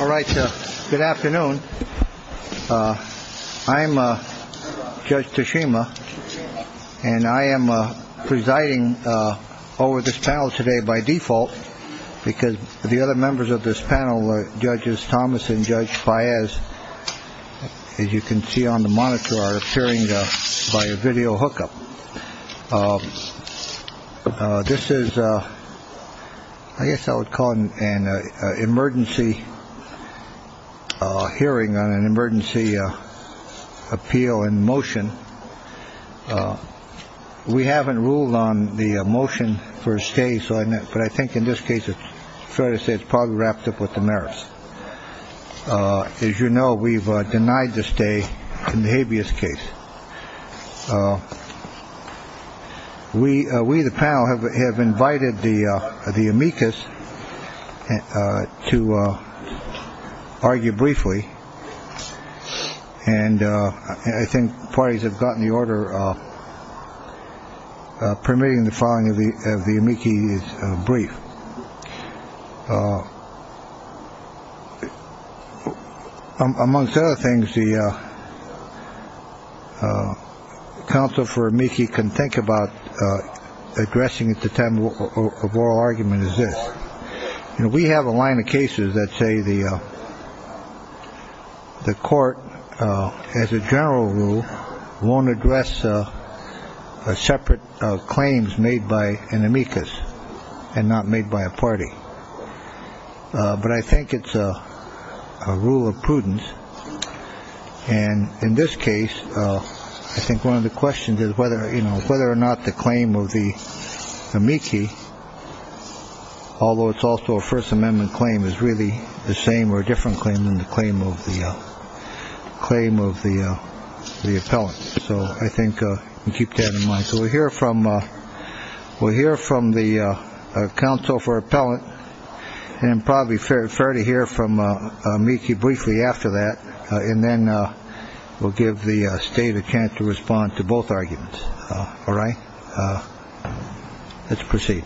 All right. Good afternoon. I'm Judge Tashima, and I am presiding over this panel today by default because the other members of this panel, Judges Thomas and Judge Fires, as you can see on the monitor, are appearing by a video hookup. This is, I guess I would call an emergency hearing on an emergency appeal in motion. We haven't ruled on the motion for a stay. So I think in this case, it's fair to say it's probably wrapped up with the merits. As you know, we've denied the stay in the habeas case. We are we the panel have have invited the the amicus to argue briefly. And I think parties have gotten the order permitting the following of the amicus brief. Amongst other things, the counsel for Mickey can think about addressing it. Argument is this. We have a line of cases that say the the court, as a general rule, won't address a separate claims made by an amicus and not made by a party. But I think it's a rule of prudence. And in this case, I think one of the questions is whether, you know, whether or not the claim of the Mickey, although it's also a First Amendment claim, is really the same or different claim than the claim of the claim of the the appellant. So I think you keep that in mind. So we'll hear from we'll hear from the counsel for appellant. And probably fair. Fair to hear from Mickey briefly after that. And then we'll give the state a chance to respond to both arguments. All right. Let's proceed.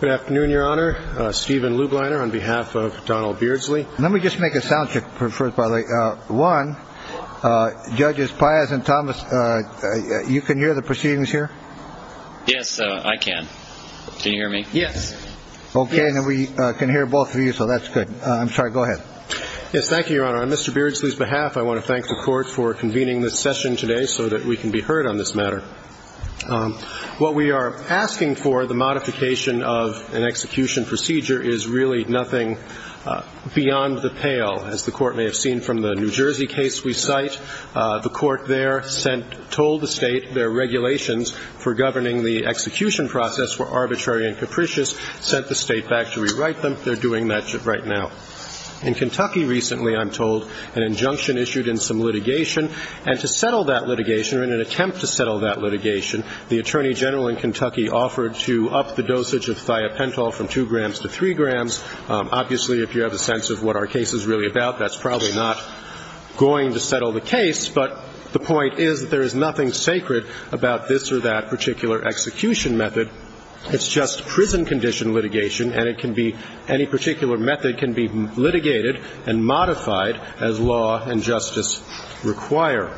Good afternoon, Your Honor. Stephen Lublin on behalf of Donald Beardsley. Let me just make a sound check. One. Judges Pius and Thomas, you can hear the proceedings here. Yes, I can. Can you hear me? Yes. OK. We can hear both of you. So that's good. I'm sorry. Go ahead. Yes. Thank you, Your Honor. Mr. Beardsley's behalf. I want to thank the court for convening this session today so that we can be heard on this matter. What we are asking for, the modification of an execution procedure, is really nothing beyond the pale. As the court may have seen from the New Jersey case we cite, the court there sent, told the state their regulations for governing the execution process were arbitrary and capricious, sent the state back to rewrite them. They're doing that right now. In Kentucky recently, I'm told, an injunction issued in some litigation. And to settle that litigation, or in an attempt to settle that litigation, the attorney general in Kentucky offered to up the dosage of thiopental from two grams to three grams. Obviously, if you have a sense of what our case is really about, that's probably not going to settle the case. But the point is that there is nothing sacred about this or that particular execution method. It's just prison condition litigation, and it can be, any particular method can be litigated and modified as law and justice requires.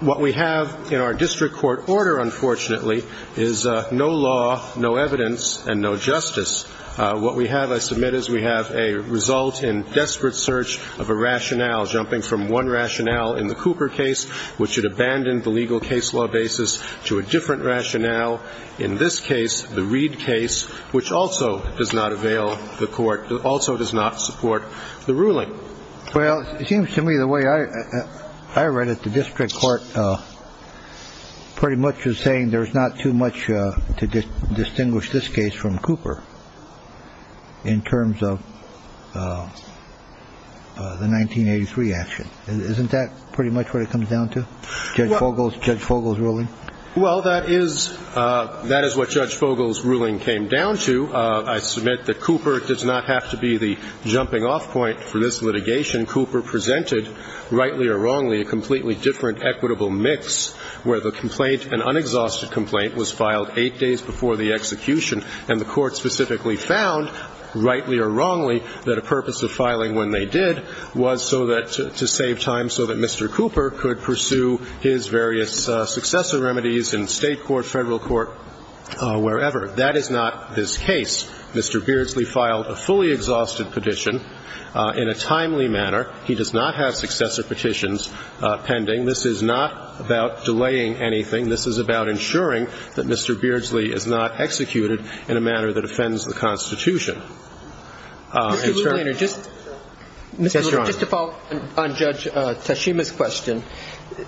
What we have in our district court order, unfortunately, is no law, no evidence, and no justice. What we have, I submit, is we have a result in desperate search of a rationale, jumping from one rationale in the Cooper case, which had abandoned the legal case law basis, to a different rationale, in this case, the Reed case, which also does not avail the court, also does not support the ruling. Well, it seems to me the way I read it, the district court pretty much is saying there's not too much to distinguish this case from Cooper in terms of the 1983 action. Isn't that pretty much what it comes down to, Judge Fogle's ruling? Well, that is what Judge Fogle's ruling came down to. In the case of Cooper, it was a case of a different kind of litigation. Cooper presented, rightly or wrongly, a completely different equitable mix, where the complaint, an unexhausted complaint, was filed eight days before the execution, and the Court specifically found, rightly or wrongly, that a purpose of filing when they did was so that to save time so that Mr. Cooper could pursue his various successor remedies in State court, Federal court, wherever. That is not this case. Mr. Beardsley filed a fully exhausted petition in a timely manner. He does not have successor petitions pending. This is not about delaying anything. This is about ensuring that Mr. Beardsley is not executed in a manner that offends the Constitution. Mr. Luther, just to follow up on Judge Tashima's question,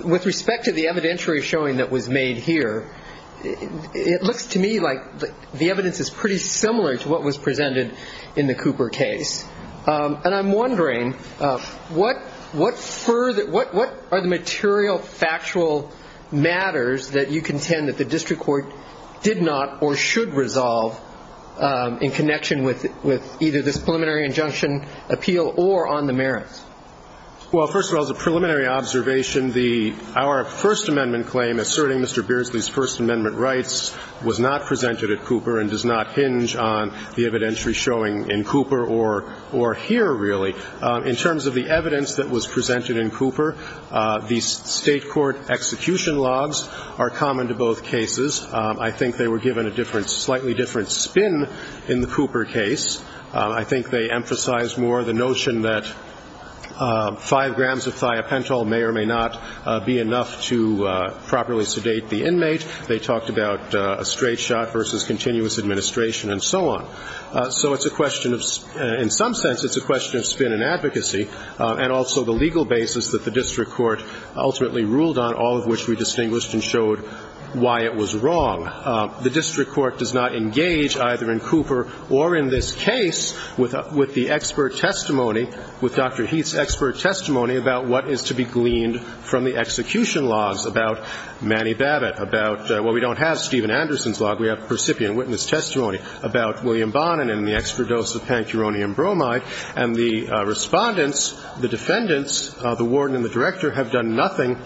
with respect to the evidentiary showing that was made here, it looks to me like the evidence is pretty similar to what was presented in the Cooper case. And I'm wondering, what are the material factual matters that you contend that the district court did not or should resolve in connection with either this preliminary injunction appeal or on the merits? Well, first of all, as a preliminary observation, our First Amendment claim asserting Mr. Beardsley's First Amendment rights was not presented at Cooper and does not hinge on the evidentiary showing in Cooper or here, really. In terms of the evidence that was presented in Cooper, the State court execution logs are common to both cases. I think they were given a slightly different spin in the Cooper case. I think they emphasized more the notion that five grams of thiopental may or may not be enough to properly sedate the inmate. They talked about a straight shot versus continuous administration and so on. So it's a question of spin. In some sense, it's a question of spin in advocacy and also the legal basis that the district court ultimately ruled on, all of which we distinguished and showed why it was wrong. The district court does not engage either in Cooper or in this case with the expert testimony, with Dr. Heath's expert testimony about what is to be gleaned from the execution logs, about Manny Babbitt, about, well, we don't have Stephen Anderson's log. We have percipient witness testimony about William Bonin and the extra dose of pancuronium bromide. And the Respondents, the Defendants, the Warden and the Director have done nothing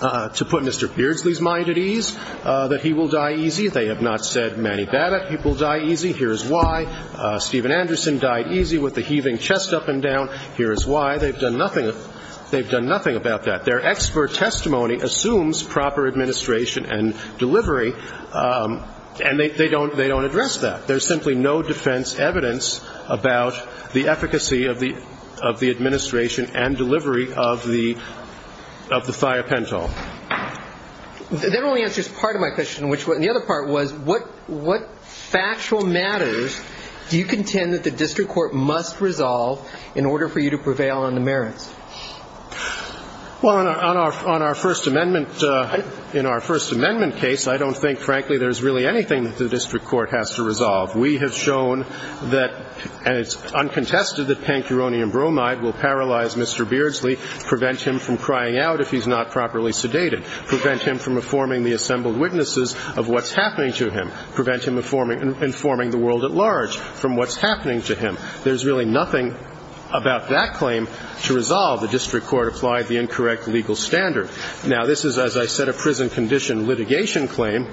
to put Mr. Beardsley's mind at ease that he will die easy. They have not said Manny Babbitt, he will die easy. Here is why. Stephen Anderson died easy with the heaving chest up and down. Here is why. They've done nothing about that. Their expert testimony assumes proper administration and delivery, and they don't address that. There is simply no defense evidence about the efficacy of the administration and delivery of the thiopental. That only answers part of my question. The other part was what factual matters do you contend that the district court must resolve in order for you to prevail on the merits? Well, on our First Amendment case, I don't think, frankly, there's really anything that the district court has to resolve. We have shown that, and it's uncontested that pancuronium bromide will paralyze Mr. Beardsley, prevent him from crying out if he's not properly sedated, prevent him from informing the assembled witnesses of what's happening to him, prevent him informing the world at large from what's happening to him. There's really nothing about that claim to resolve. The district court applied the incorrect legal standard. Now, this is, as I said, a prison condition litigation claim,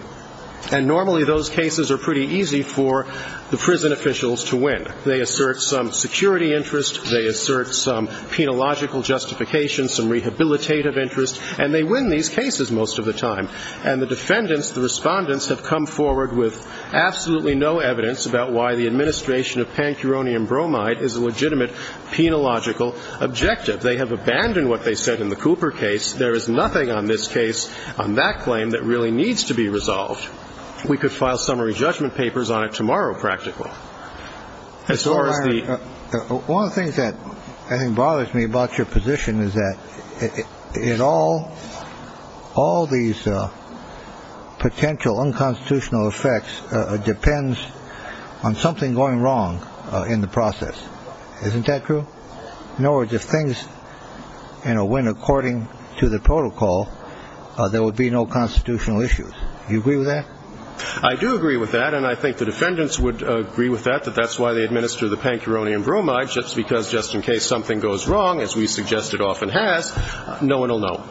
and normally those cases are pretty easy for the prison officials to win. They assert some security interest. They assert some penological justification, some rehabilitative interest, and they win these cases most of the time. And the defendants, the respondents, have come forward with absolutely no evidence about why the administration of pancuronium bromide is a legitimate penological objective. They have abandoned what they said in the Cooper case. There is nothing on this case, on that claim, that really needs to be resolved. We could file summary judgment papers on it tomorrow, practical. One of the things that bothers me about your position is that it all, all these potential unconstitutional effects depends on something going wrong in the process. Isn't that true? In other words, if things went according to the protocol, there would be no constitutional issues. You agree with that? I do agree with that, and I think the defendants would agree with that, that that's why they administer the pancuronium bromide, just because just in case something goes wrong, as we suggest it often has, no one will know.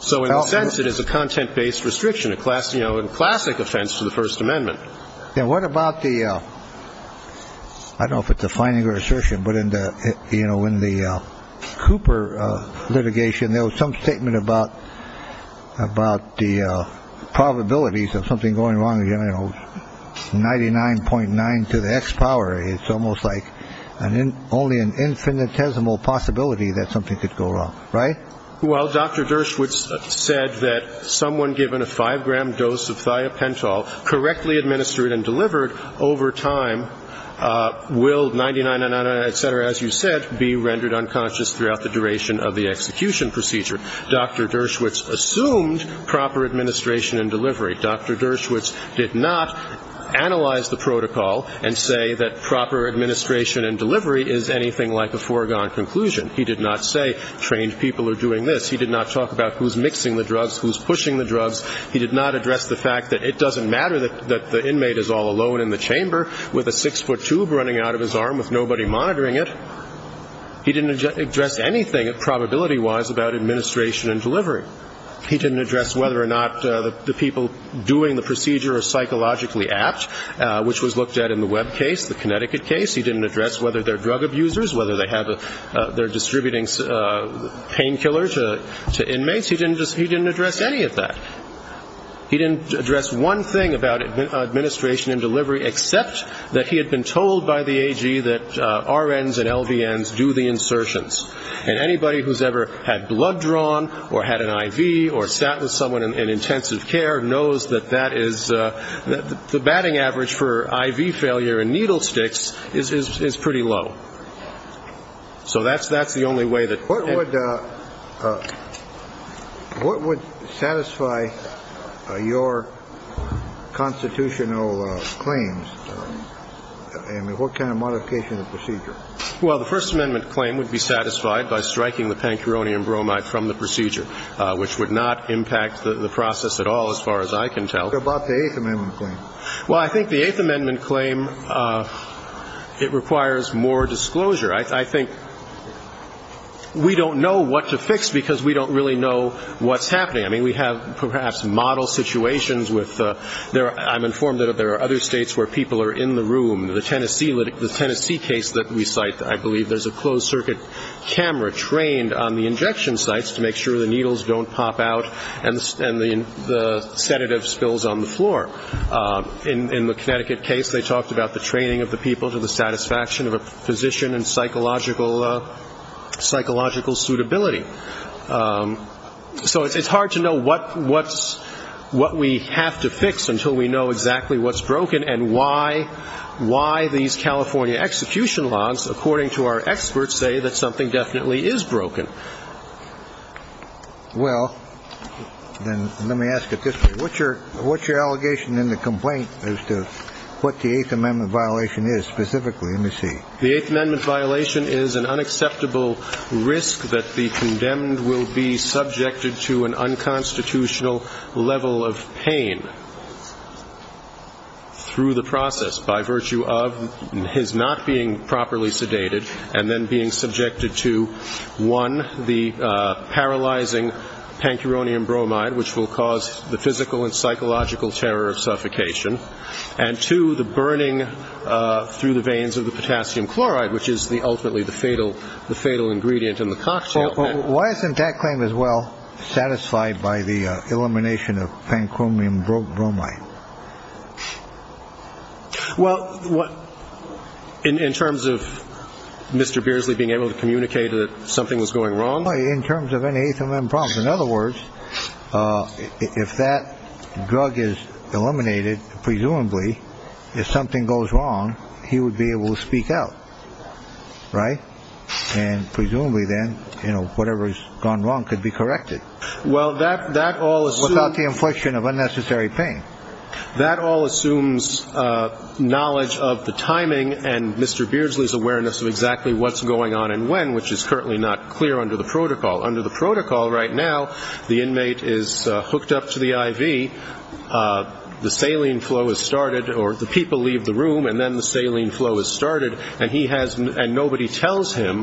So in a sense, it is a content-based restriction, a classic offense to the First Amendment. And what about the I don't know if it's a finding or assertion, but in the you know, in the Cooper litigation, there was some statement about about the probabilities of something going wrong. You know, ninety nine point nine to the X power. It's almost like an only an infinitesimal possibility that something could go wrong. Right. Well, Dr. Dershowitz said that someone given a five gram dose of thiopentol, correctly administered and delivered over time, will ninety nine, et cetera, as you said, be rendered unconscious throughout the duration of the execution procedure. Dr. Dershowitz assumed proper administration and delivery. Dr. Dershowitz did not analyze the protocol and say that proper administration and delivery is anything like a foregone conclusion. He did not say trained people are doing this. He did not talk about who's mixing the drugs, who's pushing the drugs. He did not address the fact that it doesn't matter that the inmate is all alone in the chamber with a six foot tube running out of his arm with nobody monitoring it. He didn't address anything, probability wise, about administration and delivery. He didn't address whether or not the people doing the procedure are psychologically apt, which was looked at in the Webb case, the Connecticut case. He didn't address whether they're drug abusers, whether they're distributing painkillers to inmates. He didn't address any of that. He didn't address one thing about administration and delivery, except that he had been told by the AG that RNs and LVNs do the insertions. And anybody who's ever had blood drawn or had an IV or sat with someone in intensive care knows that that is the batting average for IV failure in needle sticks is pretty low. So that's the only way that. What would satisfy your constitutional claims? I mean, what kind of modification of the procedure? Well, the First Amendment claim would be satisfied by striking the pancuronium bromide from the procedure, which would not impact the process at all as far as I can tell. What about the Eighth Amendment claim? Well, I think the Eighth Amendment claim, it requires more disclosure. I think we don't know what to fix because we don't really know what's happening. I mean, we have perhaps model situations with the – I'm informed that there are other states where people are in the room. The Tennessee case that we cite, I believe there's a closed-circuit camera trained on the injection sites to make sure the needles don't pop out and the sedative spills on the floor. In the Connecticut case, they talked about the training of the people to the satisfaction of a physician and psychological suitability. So it's hard to know what we have to fix until we know exactly what's broken and why these California execution laws, according to our experts, say that something definitely is broken. Well, then let me ask you this. What's your allegation in the complaint as to what the Eighth Amendment violation is specifically? Let me see. The Eighth Amendment violation is an unacceptable risk that the condemned will be subjected to an unconstitutional level of pain. Through the process, by virtue of his not being properly sedated and then being subjected to, one, the paralyzing pancuronium bromide, which will cause the physical and psychological terror of suffocation, and two, the burning through the veins of the potassium chloride, which is ultimately the fatal ingredient in the cocktail. Why isn't that claim as well satisfied by the elimination of pancuronium bromide? Well, in terms of Mr. Beardsley being able to communicate that something was going wrong? In terms of any Eighth Amendment problem. In other words, if that drug is eliminated, presumably if something goes wrong, he would be able to speak out. Right? And presumably then, you know, whatever has gone wrong could be corrected. Well, that all assumes. Without the infliction of unnecessary pain. That all assumes knowledge of the timing and Mr. Beardsley's awareness of exactly what's going on and when, which is currently not clear under the protocol. Under the protocol right now, the inmate is hooked up to the I.V., the saline flow is started or the people leave the room and then the saline flow is started and nobody tells him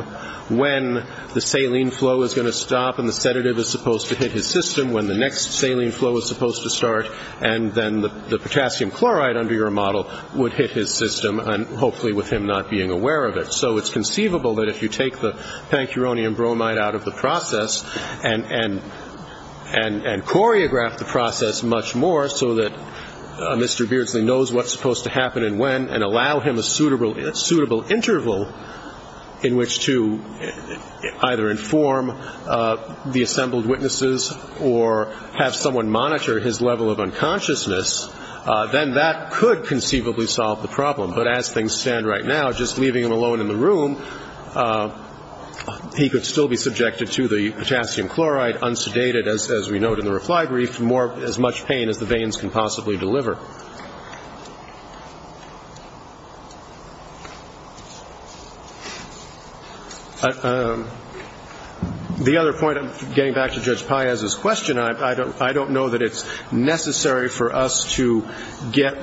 when the saline flow is going to stop and the sedative is supposed to hit his system when the next saline flow is supposed to start and then the potassium chloride under your model would hit his system, and hopefully with him not being aware of it. So it's conceivable that if you take the pancuronium bromide out of the process and choreograph the process much more so that Mr. Beardsley knows what's supposed to happen and when and allow him a suitable interval in which to either inform the assembled witnesses or have someone monitor his level of unconsciousness, then that could conceivably solve the problem. But as things stand right now, just leaving him alone in the room, he could still be subjected to the potassium chloride, unsedated, as we note in the reply brief, as much pain as the veins can possibly deliver. The other point, getting back to Judge Paez's question, I don't know that it's necessary for us to get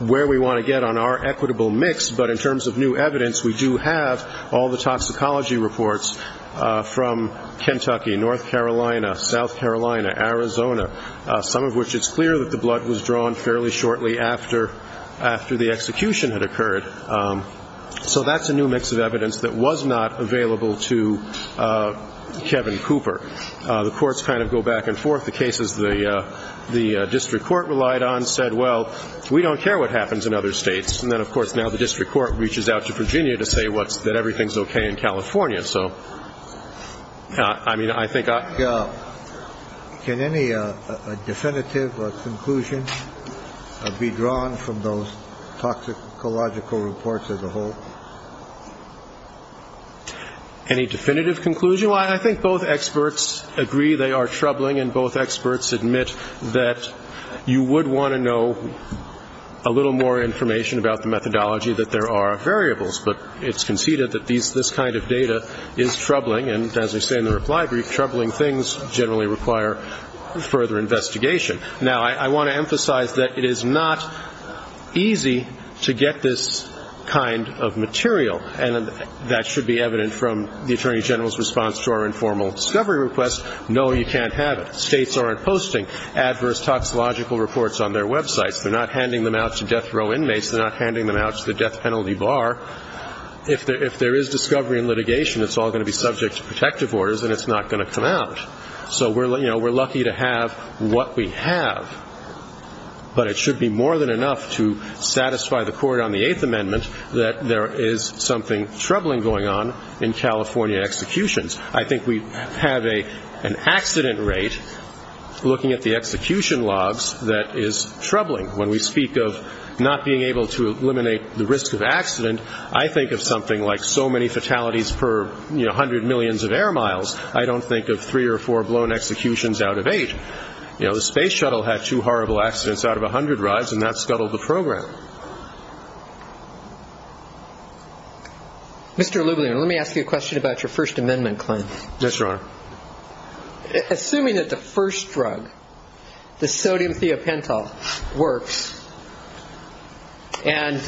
where we want to get on our equitable mix, but in terms of new evidence, we do have all the toxicology reports from Kentucky, North Carolina, South Carolina, Arizona, some of which it's clear that the blood was drawn fairly shortly after the execution had occurred. So that's a new mix of evidence that was not available to Kevin Cooper. The courts kind of go back and forth. The cases the district court relied on said, well, we don't care what happens in other states. And then, of course, now the district court reaches out to Virginia to say that everything's okay in California. So, I mean, I think I. Can any definitive conclusion be drawn from those toxicological reports as a whole? Any definitive conclusion? Well, I think both experts agree they are troubling, and both experts admit that you would want to know a little more information about the methodology, that there are variables, but it's conceded that this kind of data is troubling, and as I say in the reply brief, troubling things generally require further investigation. Now, I want to emphasize that it is not easy to get this kind of material, and that should be evident from the Attorney General's response to our informal discovery request. No, you can't have it. States aren't posting adverse toxicological reports on their websites. They're not handing them out to death row inmates. They're not handing them out to the death penalty bar. If there is discovery in litigation, it's all going to be subject to protective orders, and it's not going to come out. So, you know, we're lucky to have what we have, but it should be more than enough to satisfy the Court on the Eighth Amendment that there is something troubling going on in California executions. I think we have an accident rate, looking at the execution logs, that is troubling. When we speak of not being able to eliminate the risk of accident, I think of something like so many fatalities per, you know, hundred millions of air miles, I don't think of three or four blown executions out of eight. You know, the space shuttle had two horrible accidents out of a hundred rides, and that scuttled the program. Mr. Lublin, let me ask you a question about your First Amendment claim. Yes, Your Honor. Assuming that the first drug, the sodium theopentyl, works, and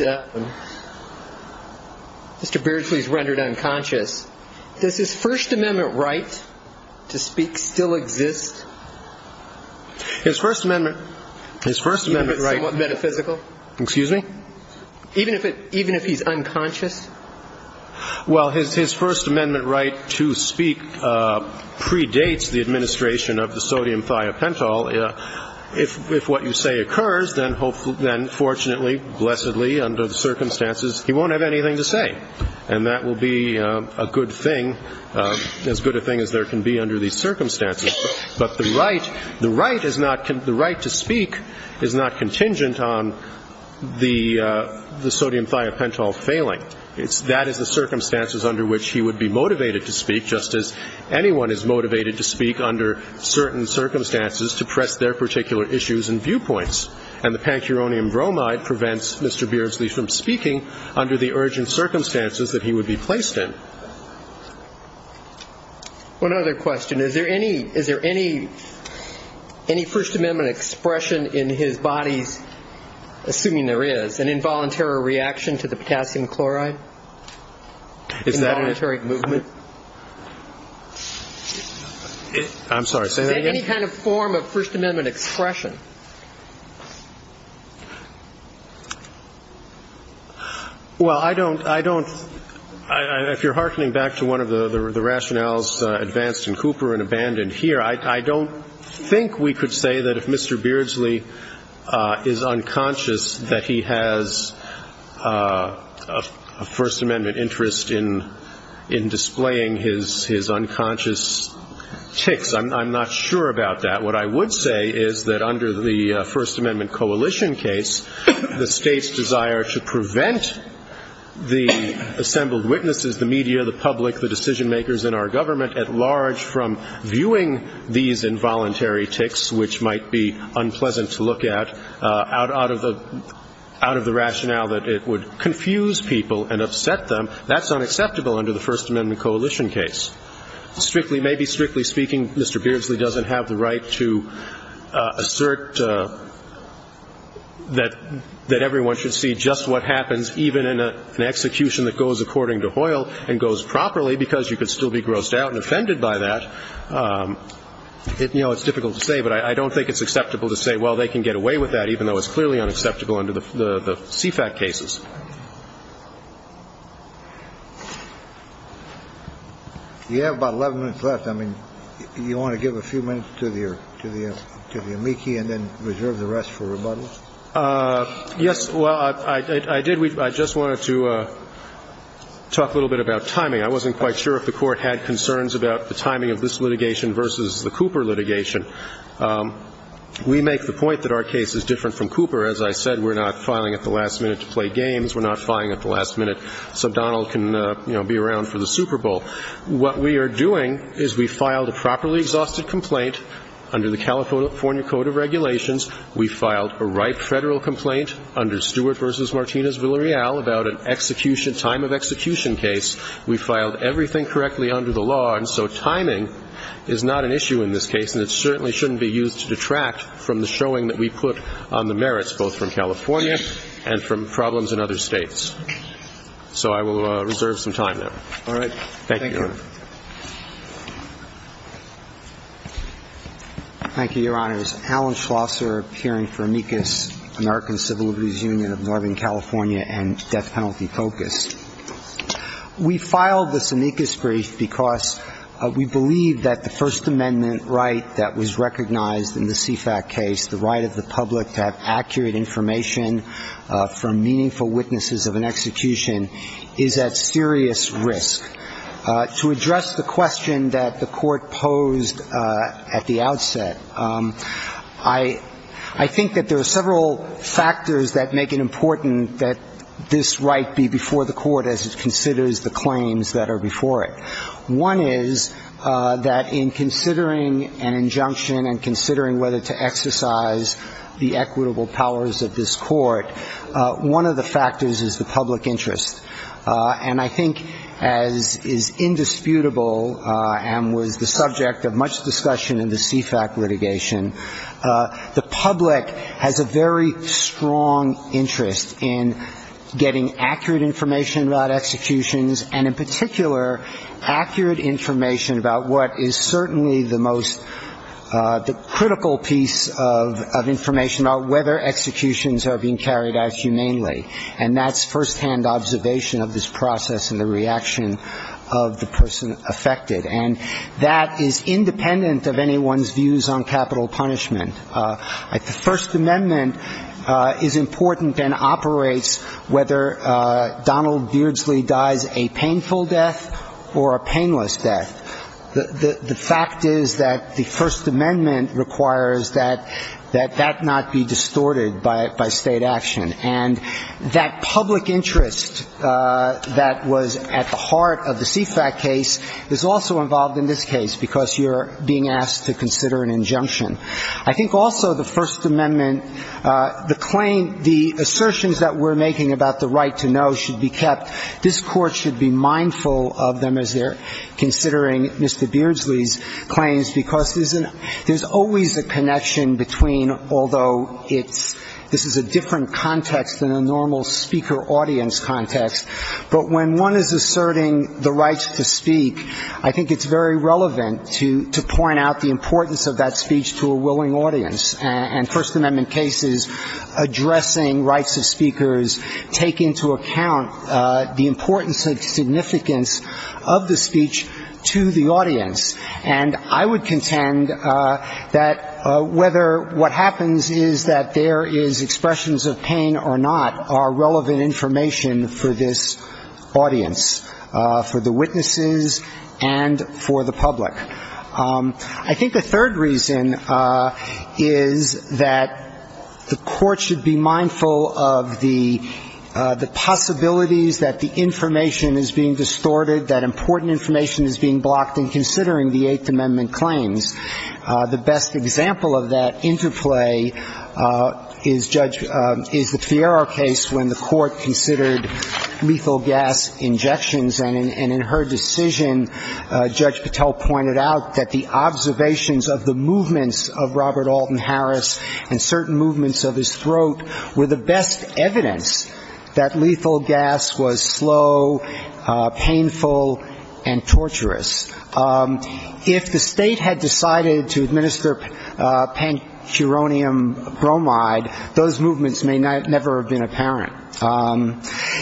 Mr. Beardsley is rendered unconscious, does his First Amendment right to speak still exist? His First Amendment right is somewhat metaphysical. Excuse me? Even if he's unconscious? Well, his First Amendment right to speak predates the administration of the sodium theopentyl. If what you say occurs, then fortunately, blessedly, under the circumstances, he won't have anything to say, and that will be a good thing, as good a thing as there can be under these circumstances. But the right to speak is not contingent on the sodium theopentyl failing. That is the circumstances under which he would be motivated to speak, just as anyone is motivated to speak under certain circumstances to press their particular issues and viewpoints. And the pancuronium bromide prevents Mr. Beardsley from speaking under the urgent circumstances that he would be placed in. One other question. Is there any First Amendment expression in his body, assuming there is, an involuntary reaction to the potassium chloride, involuntary movement? I'm sorry. Is there any kind of form of First Amendment expression? Well, I don't, I don't, if you're hearkening back to one of the rationales advanced in Cooper and abandoned here, I don't think we could say that if Mr. Beardsley is unconscious, that he has a First Amendment interest in displaying his unconscious tics. I'm not sure about that. What I would say is that under the First Amendment coalition case, the State's desire to prevent the assembled witnesses, the media, the public, the decision-makers in our government at large from viewing these involuntary tics, which might be unpleasant to look at, out of the rationale that it would confuse people and upset them, that's unacceptable under the First Amendment coalition case. Strictly, maybe strictly speaking, Mr. Beardsley doesn't have the right to assert that everyone should see just what happens even in an execution that goes according to Hoyle and goes properly because you could still be grossed out and offended by that. You know, it's difficult to say, but I don't think it's acceptable to say, well, they can get away with that even though it's clearly unacceptable under the CFAT cases. You have about 11 minutes left. I mean, you want to give a few minutes to the amici and then reserve the rest for rebuttals? Yes. Well, I did. I just wanted to talk a little bit about timing. I wasn't quite sure if the Court had concerns about the timing of this litigation versus the Cooper litigation. We make the point that our case is different from Cooper. As I said, we're not filing at the last minute to play games. We're not filing at the last minute so Donald can, you know, be around for the Super Bowl. What we are doing is we filed a properly exhausted complaint under the California Code of Regulations. We filed a ripe Federal complaint under Stewart v. Martinez Villarreal about an execution, time of execution case. We filed everything correctly under the law, and so timing is not an issue in this case, and it certainly shouldn't be used to detract from the showing that we put on the merits, both from California and from problems in other states. So I will reserve some time now. All right. Thank you. Thank you, Your Honors. Alan Schlosser, appearing for amicus, American Civil Liberties Union of Northern California and death penalty focused. We filed this amicus brief because we believe that the First Amendment right that was recognized in the CFAC case, the right of the public to have accurate information from meaningful witnesses of an execution, is at serious risk. To address the question that the Court posed at the outset, I think that there are several factors that make it important that this right be before the Court as it considers the claims that are before it. One is that in considering an injunction and considering whether to exercise the equitable powers of this Court, one of the factors is the public interest. And I think as is indisputable and was the subject of much discussion in the CFAC litigation, the public has a very strong interest in getting accurate information about executions and in particular, accurate information about what is certainly the most critical piece of information, whether executions are being carried out humanely. And that's firsthand observation of this process and the reaction of the person affected. And that is independent of anyone's views on capital punishment. The First Amendment is important and operates whether Donald Beardsley dies a painful death or a painless death. The fact is that the First Amendment requires that that not be distorted by state action. And that public interest that was at the heart of the CFAC case is also involved in this case, because you're being asked to consider an injunction. I think also the First Amendment, the claim, the assertions that we're making about the right to know should be kept. This Court should be mindful of them as they're considering Mr. Beardsley's claims, because there's always a connection between, although this is a different context than a normal speaker-audience context, but when one is asserting the right to speak, I think it's very relevant to point out the importance of that speech to a willing audience. And First Amendment cases addressing rights of speakers take into account the importance and significance of the speech to the audience. And I would contend that whether what happens is that there is expressions of pain or not are relevant information for this audience, for the witnesses and for the public. I think the third reason is that the Court should be mindful of the possibilities that the information is being distorted, that important information is being blocked in considering the Eighth Amendment claims. The best example of that interplay is Judge the Fierro case when the Court considered lethal gas injections, and in her decision, Judge Patel pointed out that the observations of the movements of Robert Alton Harris and certain movements of his throat were the best evidence that lethal gas was slow, painful, and torturous. If the state had decided to administer pancuronium bromide, those movements may never have been apparent.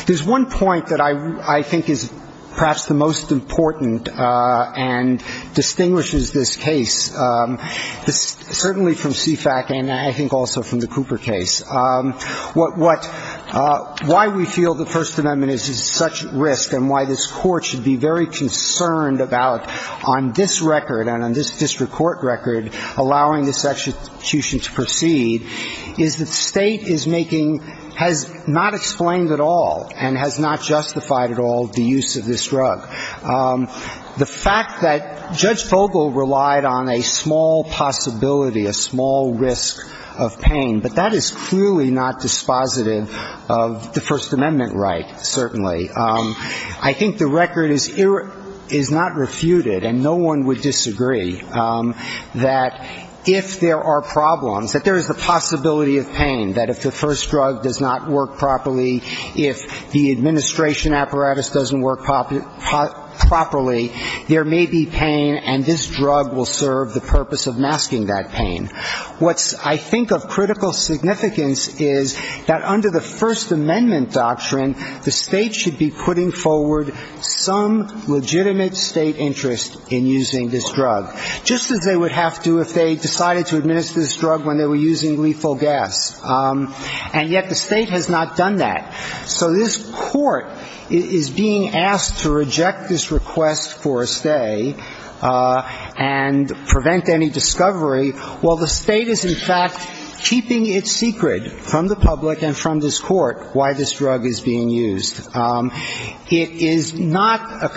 There's one point that I think is perhaps the most important and distinguishes this case, certainly from CFAC and I think also from the Cooper case. Why we feel the First Amendment is at such risk and why this Court should be very concerned about, on this record and on this district court record, allowing this execution to proceed, is that state is making, has not explained at all and has not justified at all the use of this drug. The fact that Judge Vogel relied on a small possibility, a small risk of pain, but that is clearly not the case. It's clearly not dispositive of the First Amendment right, certainly. I think the record is not refuted, and no one would disagree, that if there are problems, that there is a possibility of pain, that if the first drug does not work properly, if the administration apparatus doesn't work properly, there may be pain and this drug will serve the purpose of masking that pain. What I think of critical significance is that under the First Amendment doctrine, the state should be putting forward some legitimate state interest in using this drug, just as they would have to if they decided to administer this drug when they were using lethal gas. And yet the state has not done that. So this Court is being asked to reject this request for a stay and prevent any discovery. Well, that's not going to happen. Well, the state is, in fact, keeping it secret from the public and from this Court why this drug is being used. It is not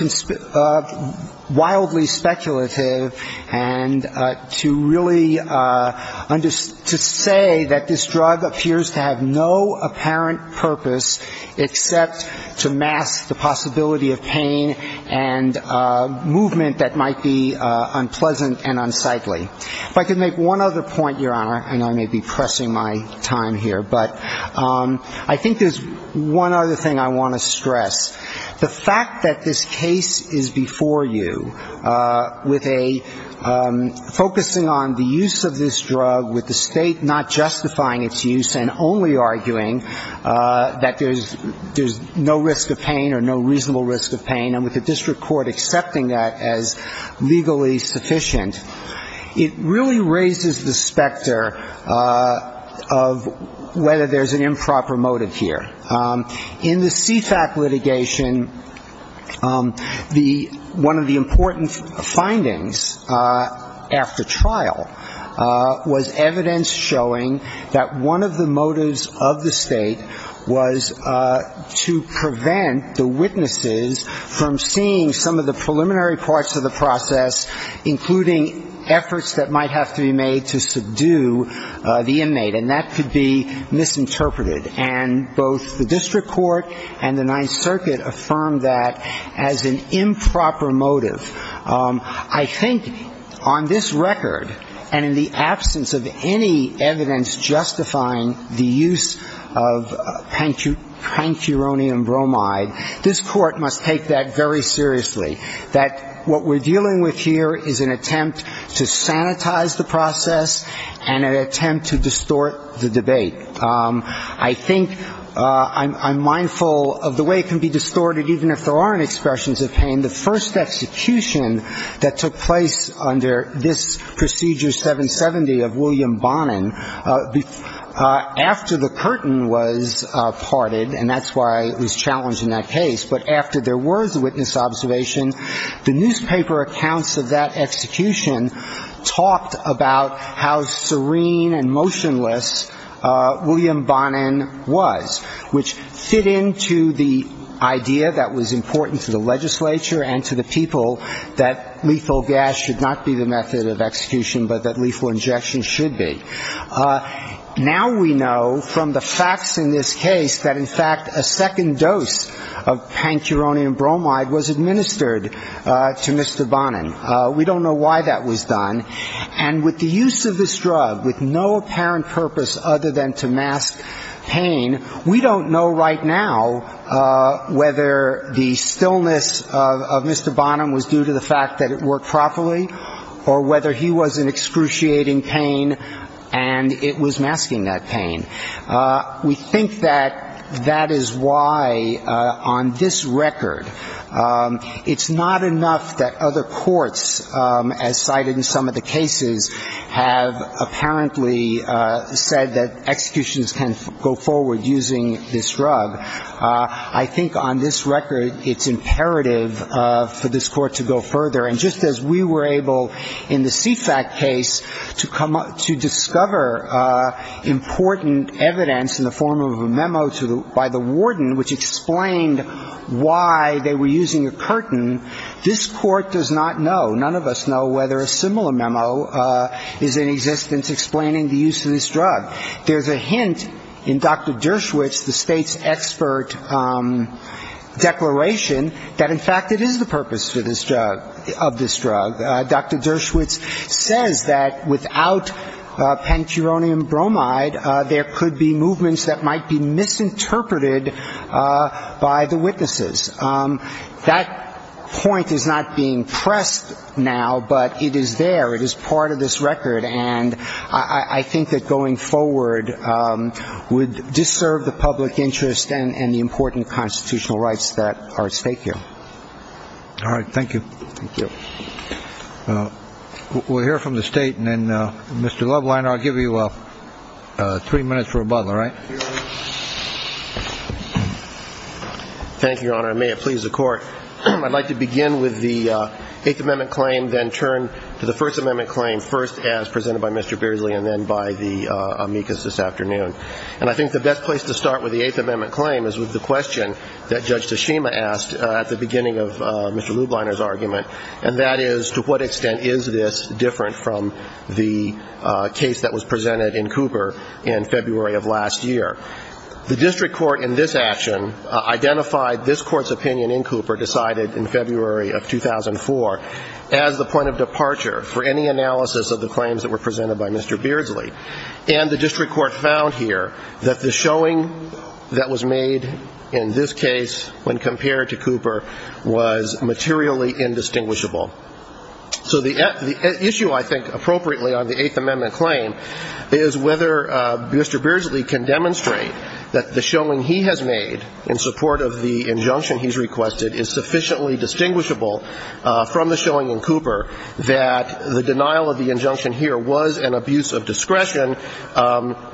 wildly speculative and to really say that this drug appears to have no apparent purpose except to mask the possibility of pain and movement that might be unpleasant and unsightly. If I could make one other point, Your Honor, and I may be pressing my time here, but I think there's one other thing I want to stress. The fact that this case is before you with a focusing on the use of this drug, with the state not justifying its use and only arguing that there's no risk of pain or no reasonable risk of pain, and with the district court accepting that as legally sufficient, it really raises the specter of whether there's an improper motive here. In the CFAC litigation, one of the important findings after trial was evidence showing that one of the motives of the state was to prevent the witnesses from seeing some of the preliminary parts of the process, including efforts that might have to be made to subdue the inmate. And that could be misinterpreted. And both the district court and the Ninth Circuit affirmed that as an improper motive. I think on this record and in the absence of any evidence justifying the use of pancuronium bromide, this Court must take that very seriously. That what we're dealing with here is an attempt to sanitize the process and an attempt to distort the debate. I think I'm mindful of the way it can be distorted, even if there aren't expressions of pain. The first execution that took place under this Procedure 770 of William Bonin, after the curtain was parted, and that's why it was challenged in that case, but after there were the witnesses, there were the witnesses, there were the witnesses, and there was the witness observation, the newspaper accounts of that execution talked about how serene and motionless William Bonin was, which fit into the idea that was important to the legislature and to the people that lethal gas should not be the method of execution, but that lethal injection should be. Now we know from the facts in this case that, in fact, a second dose of pancuronium bromide was a lethal injection. And it was a lethal injection that was administered to Mr. Bonin. We don't know why that was done. And with the use of this drug, with no apparent purpose other than to mask pain, we don't know right now whether the stillness of Mr. Bonin was due to the fact that it worked properly or whether he was in excruciating pain and it was masking that pain. We think that that is why on this record it's not enough that other courts, as cited in some of the cases, have apparently said that executions can go forward using this drug. I think on this record it's imperative for this Court to go further. And just as we were able in the CFAC case to discover important evidence in the form of a memo by the warden which explained why they were using a curtain, this Court does not know, none of us know, whether a similar memo is in existence explaining the use of this drug. There's a hint in Dr. Dershowitz, the State's expert declaration, that, in fact, it is the purpose of this drug. Dr. Dershowitz says that without pancuronium bromide there could be movements that might be misinterpreted by the witnesses. That point is not being pressed now, but it is there. It is part of this record. And I think that going forward would disserve the public interest and the important constitutional rights that are at stake here. We'll hear from the State. And then, Mr. Lubliner, I'll give you three minutes for rebuttal, all right? Thank you, Your Honor. And may it please the Court, I'd like to begin with the Eighth Amendment claim, then turn to the First Amendment claim, first as presented by Mr. Beardsley and then by the amicus this afternoon. And I think the best place to start with the Eighth Amendment claim is with the question that Judge Toshima asked at the beginning of Mr. Lubliner's argument, and that is to what extent is this different from the case that was presented in Cooper in February of last year? The district court in this action identified this Court's opinion in Cooper decided in February of 2004 as the point of departure for any analysis of the claims that were presented by Mr. Beardsley. And the district court found here that the showing that was made in this case when compared to Cooper was materially indistinguishable. So the issue, I think, appropriately on the Eighth Amendment claim is whether Mr. Beardsley can demonstrate that the showing he has made in support of the injunction he's requested is sufficiently distinguishable from the showing in Cooper that the denial of the injunction here was an abuse of discretion,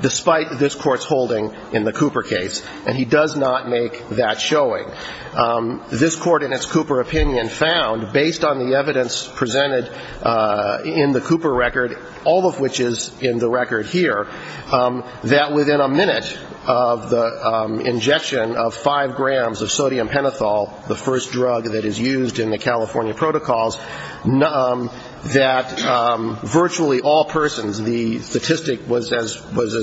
despite this Court's holding in the Cooper case. And he does not make that point. And the district court found, based on the evidence presented in the Cooper record, all of which is in the record here, that within a minute of the injection of five grams of sodium pentothal, the first drug that is used in the California protocols, that virtually all persons, the statistic was as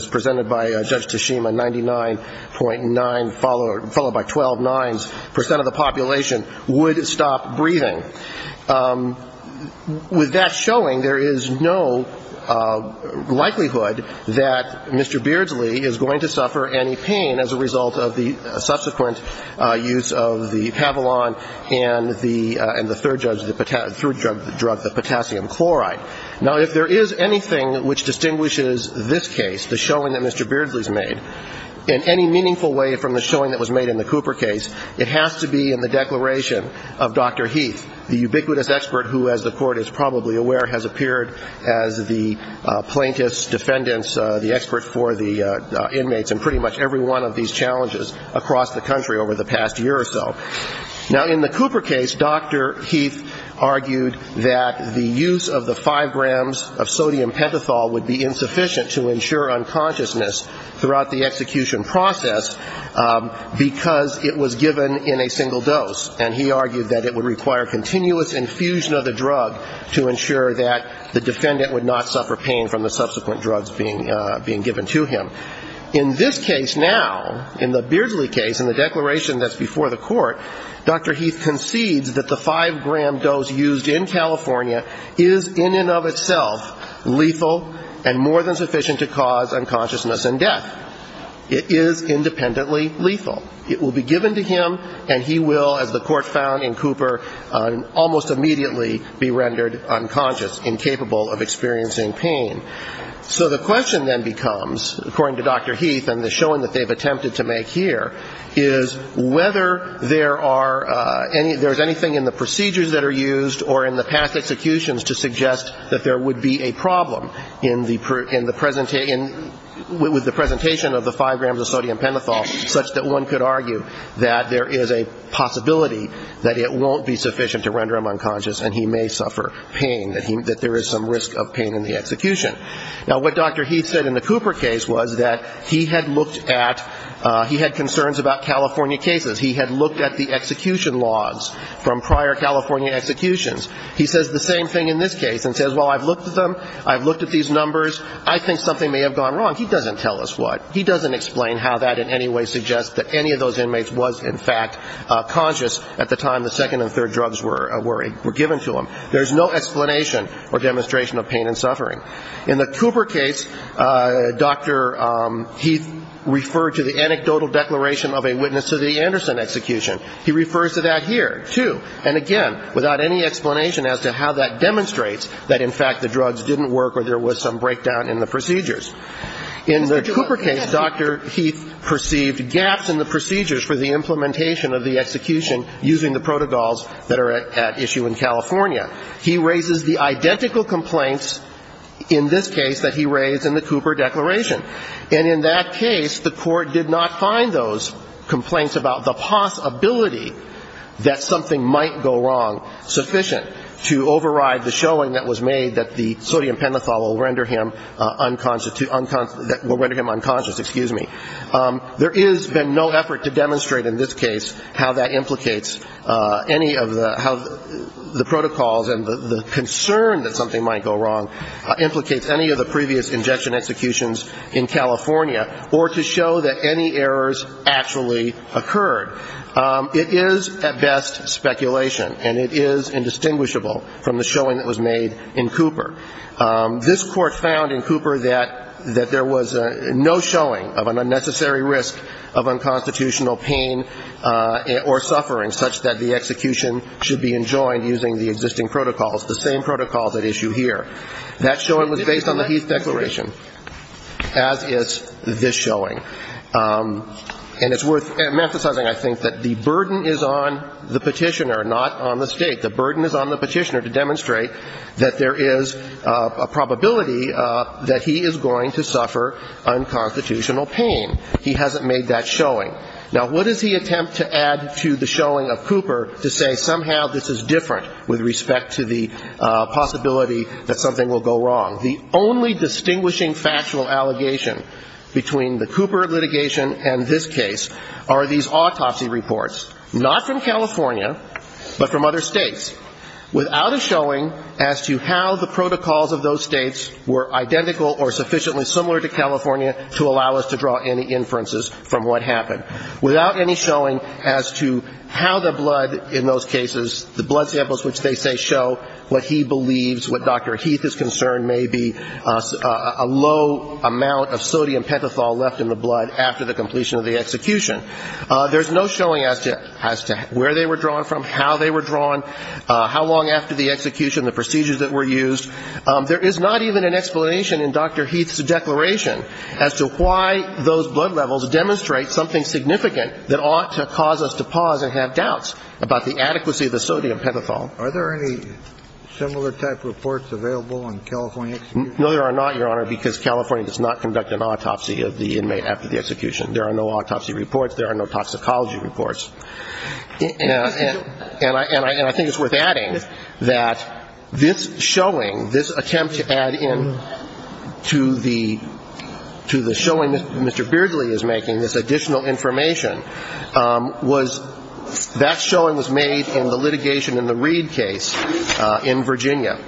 presented by Judge Toshima, 99.9, followed by 12 nines, percent of the population would stop breathing. With that showing, there is no likelihood that Mr. Beardsley is going to suffer any pain as a result of the subsequent use of the Pavilon and the third drug, the potassium chloride. Now, if there is anything which distinguishes this case, the showing that Mr. Beardsley's made, in any meaningful way from the showing that was made in the Cooper case, it has to be in the declaration of Dr. Heath, the ubiquitous expert who, as the Court is probably aware, has appeared as the plaintiff's defendant's, the expert for the inmates in pretty much every one of these challenges across the country over the past year or so. Now, in the Cooper case, Dr. Heath argued that the use of the five grams of sodium pentothal would be insufficient to ensure unconsciousness throughout the execution process, because it was given in a single dose. And he argued that it would require a continuous infusion of the drug to ensure that the defendant would not suffer pain from the subsequent drugs being given to him. In this case now, in the Beardsley case, in the declaration that's before the Court, Dr. Heath concedes that the five-gram dose used in California is in and of itself lethal and more than sufficient to cause unconsciousness and death. It is independently lethal. It will be given to him, and he will, as the Court found in Cooper, almost immediately be rendered unconscious, incapable of experiencing pain. So the question then becomes, according to Dr. Heath and the showing that they've attempted to make here, is whether there are any ‑‑ there's anything in the procedures that are used or in the past executions to suggest that there would be a problem in the ‑‑ with the presentation of the five grams of sodium pentothal, such that one could argue that there is a possibility that it won't be sufficient to render him unconscious and he may suffer pain, that there is some risk of pain in the execution. Now, what Dr. Heath said in the Cooper case was that he had looked at ‑‑ he had concerns about California cases. He had looked at the execution logs from prior California executions. He says the same thing in this case and says, well, I've looked at them, I've looked at these numbers, I think something may have gone wrong. He doesn't tell us what. He doesn't explain how that in any way suggests that any of those inmates was, in fact, conscious at the time the second and third drugs were given to him. There's no explanation or demonstration of pain and suffering. In the Cooper case, Dr. Heath referred to the anecdotal declaration of a witness to the Anderson execution. He refers to that here, too, and again, without any explanation as to how that demonstrates that, in fact, the drugs didn't work or there was some breakdown in the procedures. In the Cooper case, Dr. Heath perceived gaps in the procedures for the implementation of the execution using the protocols that are at issue in California. He raises the identical complaints in this case that he raised in the Cooper declaration. And in that case, the Court did not find those complaints about the possibility that something might go wrong sufficient to override the showing that was made that the sodium pentothal will render him unconscious. There has been no effort to demonstrate in this case how that implicates any of the protocols and the concern that something might go wrong implicates any of the previous injection executions in California or to show that any errors actually occurred. It is, at best, speculation, and it is indistinguishable from the showing that was made in Cooper. This Court found in Cooper that there was no showing of an unnecessary risk of unconstitutional pain or suffering such that the execution should be enjoined using the existing protocols, the same protocols at issue here. That showing was based on the Heath declaration, as is this showing. And it's worth emphasizing, I think, that the burden is on the Petitioner, not on the State. The burden is on the Petitioner to demonstrate that there is a probability that he is going to suffer unconstitutional pain. He hasn't made that showing. Now, what does he attempt to add to the showing of Cooper to say somehow this is different with respect to the possibility that something will go wrong? The only distinguishing factual allegation between the Cooper litigation and this case are these autopsy reports, not from California, but from other states, without a showing as to how the protocols of those states were identical or sufficiently similar to California to allow us to draw any inferences from what happened, without any showing as to how the blood in those cases, the blood samples which they say show what he believes, what Dr. Heath is concerned may be a low amount of sodium pentothal left in the blood after the completion of the execution. There's no showing as to where they were drawn from, how they were drawn, how long after the execution, the procedures that were used. There is not even an explanation in Dr. Heath's declaration as to why those blood levels demonstrate something significant that ought to cause us to pause and have doubts about the adequacy of the sodium pentothal. Are there any similar type reports available in California? No, there are not, Your Honor, because California does not conduct an autopsy of the inmate after the execution. There are no autopsy reports. There are no toxicology reports. And I think it's worth adding that this showing, this attempt to add in to the showing that Mr. Beardley is making, this additional information, that showing was made in the litigation in the Reed case in Virginia.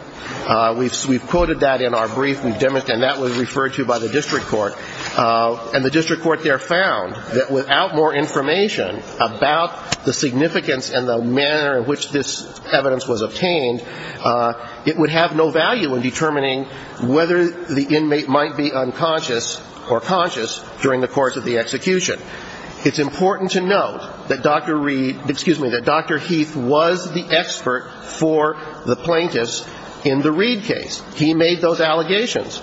We've quoted that in our brief, and that was referred to by the district court, and the district court there found that without more information about the significance and the manner in which this evidence was obtained, it would have no value in determining whether the inmate might be unconscious or conscious during the course of the execution. It's important to note that Dr. Reed, excuse me, that Dr. Heath was the expert for the plaintiffs in this case. In the Reed case, he made those allegations.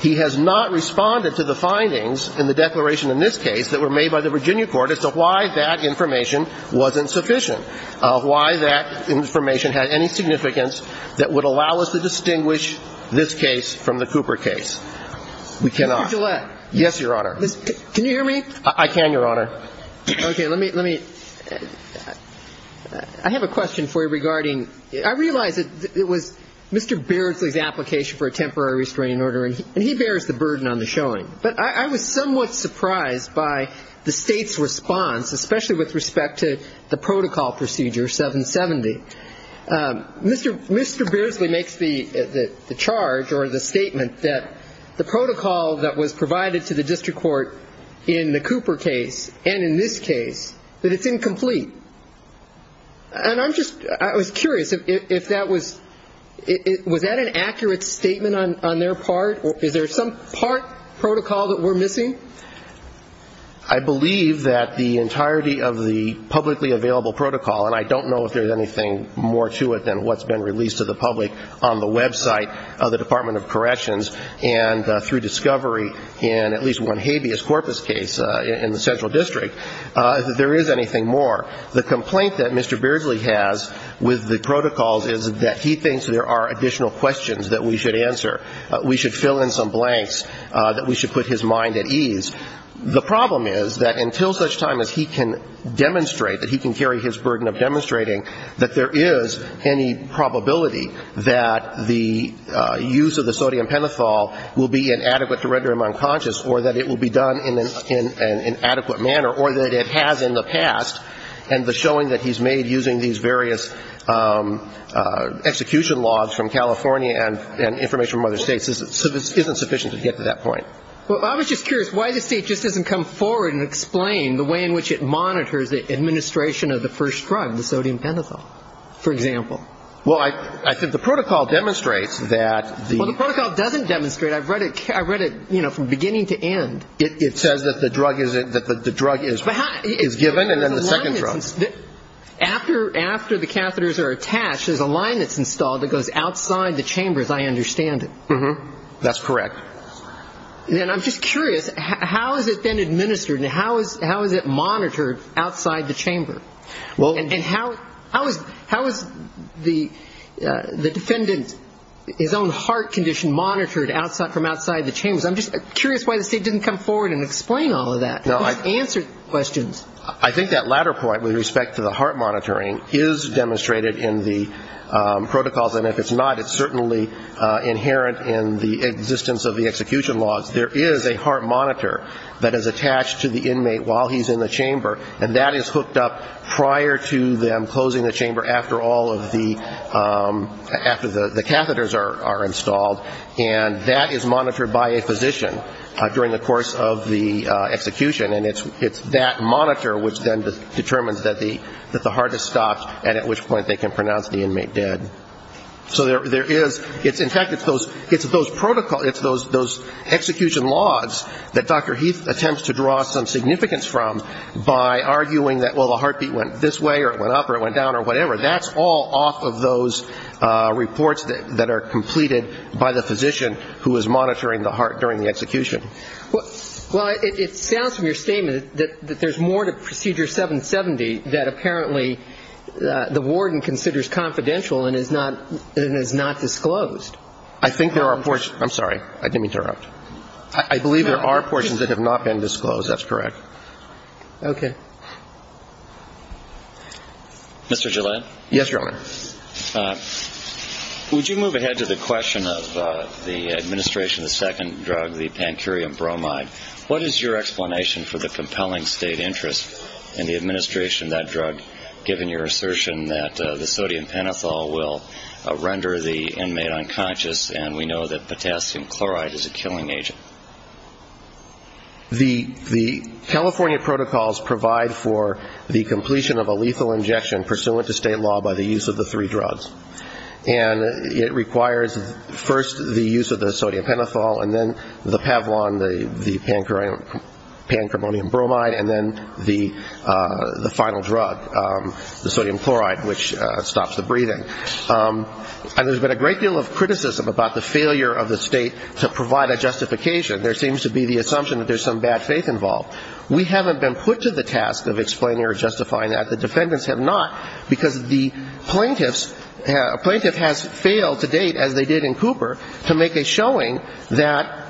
He has not responded to the findings in the declaration in this case that were made by the Virginia court as to why that information wasn't sufficient, why that information had any significance that would allow us to distinguish this case from the Cooper case. We cannot. Mr. Gillette. Yes, Your Honor. Can you hear me? I can, Your Honor. Okay, let me, let me, I have a question for you regarding, I realize it was Mr. Beardley's application for a temporary restraining order, and he bears the burden on the showing, but I was somewhat surprised by the State's response, especially with respect to the district court in the Cooper case and in this case, that it's incomplete. And I'm just, I was curious if that was, was that an accurate statement on their part? Is there some part protocol that we're missing? I believe that the entirety of the publicly available protocol, and I don't know if there's anything more to it than what's been released to the public on the website of the Department of Corrections, and through discovery in at least one hand, the habeas corpus case in the central district, if there is anything more. The complaint that Mr. Beardley has with the protocols is that he thinks there are additional questions that we should answer. We should fill in some blanks, that we should put his mind at ease. The problem is that until such time as he can demonstrate, that he can carry his burden of demonstrating, that there is any probability that the use of the sodium pentothal will be inadequate to render him unconscious or that it will be a burden on the district court to be done in an adequate manner or that it has in the past, and the showing that he's made using these various execution logs from California and information from other states isn't sufficient to get to that point. Well, I was just curious why the state just doesn't come forward and explain the way in which it monitors the administration of the first drug, the sodium pentothal, for example. Well, I think the protocol demonstrates that the... Well, the protocol doesn't demonstrate. I've read it from beginning to end. It says that the drug is given and then the second drug. After the catheters are attached, there's a line that's installed that goes outside the chambers, I understand it. That's correct. Then I'm just curious, how has it been administered and how is it monitored outside the chamber? And how is the defendant, his own heart condition monitored from outside the chambers? I'm just curious why the state didn't come forward and explain all of that, answer questions. I think that latter point with respect to the heart monitoring is demonstrated in the protocols, and if it's not, it's certainly inherent in the existence of the execution laws. There is a heart monitor that is attached to the inmate while he's in the chamber, and that is hooked up prior to them closing the chamber after all of the catheters are installed, and that is monitored by a physician during the course of the execution. And it's that monitor which then determines that the heart is stopped and at which point they can pronounce the inmate dead. So there is, in fact, it's those protocol, it's those execution laws that Dr. Heath attempts to draw some significance from by arguing that, well, the heartbeat went this way or it went up or it went down or whatever. That's all off of those reports that are completed by the physician who is monitoring the heart during the execution. Well, it sounds from your statement that there's more to Procedure 770 that apparently the warden considers confidential and is not disclosed. I think there are portions. I'm sorry. I didn't mean to interrupt. I believe there are portions that have not been disclosed. That's correct. Okay. Mr. Gillette? Yes, Your Honor. Would you move ahead to the question of the administration of the second drug, the pancurium bromide? What is your explanation for the compelling state interest in the administration of that drug, given your assertion that the sodium pentothal will render the inmate unconscious and we know that potassium chloride is a killing agent? The California protocols provide for the completion of a lethal injection pursuant to state law by the use of the three drugs. And it requires first the use of the sodium pentothal and then the pavlon, the pancurium bromide, and then the final drug, the sodium chloride, which stops the breathing. And there's been a great deal of criticism about the failure of the state to provide a justification. There seems to be the assumption that there's some bad faith involved. We haven't been put to the task of explaining or justifying that. The defendants have not, because the plaintiffs, a plaintiff has failed to date, as they did in Cooper, to make a showing that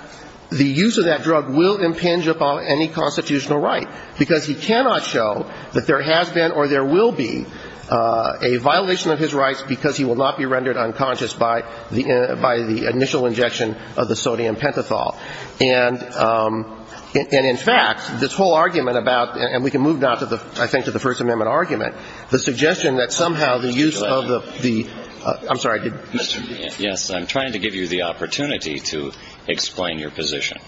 the use of that drug will impinge upon any constitutional right, because he cannot show that there has been or there will be a violation of his rights because he will not be rendered unconscious by the initial injection of the sodium pentothal. And in fact, this whole argument about, and we can move now, I think, to the First Amendment argument, the suggestion that somehow the use of the, I'm sorry, did Mr. Yes, I'm trying to give you the opportunity to explain your position.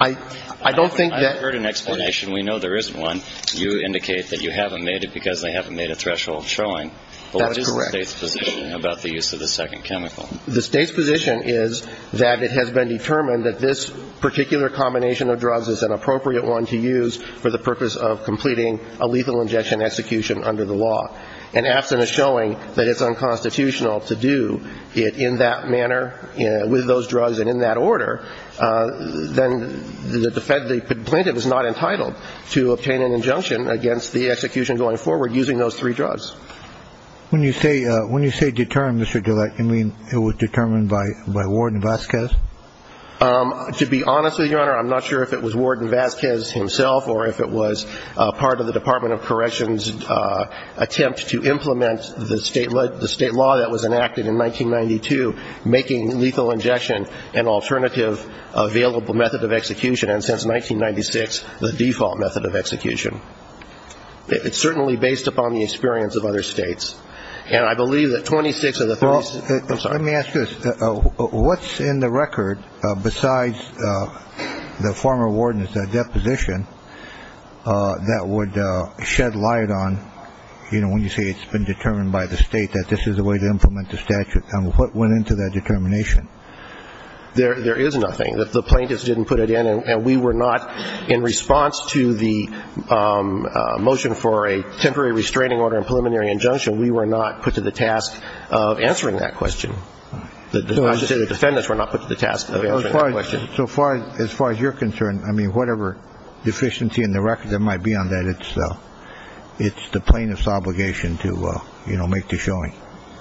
I don't think that. I've heard an explanation. We know there isn't one. You indicate that you haven't made it because they haven't made a threshold showing. That is correct. What is the state's position about the use of the second chemical? The state's position is that it has been determined that this particular combination of drugs is an appropriate one to use for the purpose of completing a lethal injection execution under the law. And absent a showing that it's unconstitutional to do it in that manner, with those drugs and in that order, then the defendant, the plaintiff is not entitled to obtain an injunction against the execution going forward using those three drugs. When you say, when you say determined, Mr. Gillette, you mean it was determined by Ward and Vasquez? To be honest with you, Your Honor, I'm not sure if it was Ward and Vasquez himself or if it was part of the Department of Corrections' attempt to implement the state law that was enacted in 1992, making lethal injection an alternative available method of execution, and since 1996 the default method of execution. It's certainly based upon the experience of other states. Let me ask you this. What's in the record besides the former warden's deposition that would shed light on, you know, when you say it's been determined by the state that this is a way to implement the statute, and what went into that determination? There is nothing. The plaintiffs didn't put it in, and we were not, in response to the motion for a temporary restraining order and preliminary injunction, we were not put to the task of answering that question. I should say the defendants were not put to the task of answering that question. So as far as you're concerned, I mean, whatever deficiency in the record there might be on that, it's the plaintiff's obligation to, you know, make the showing.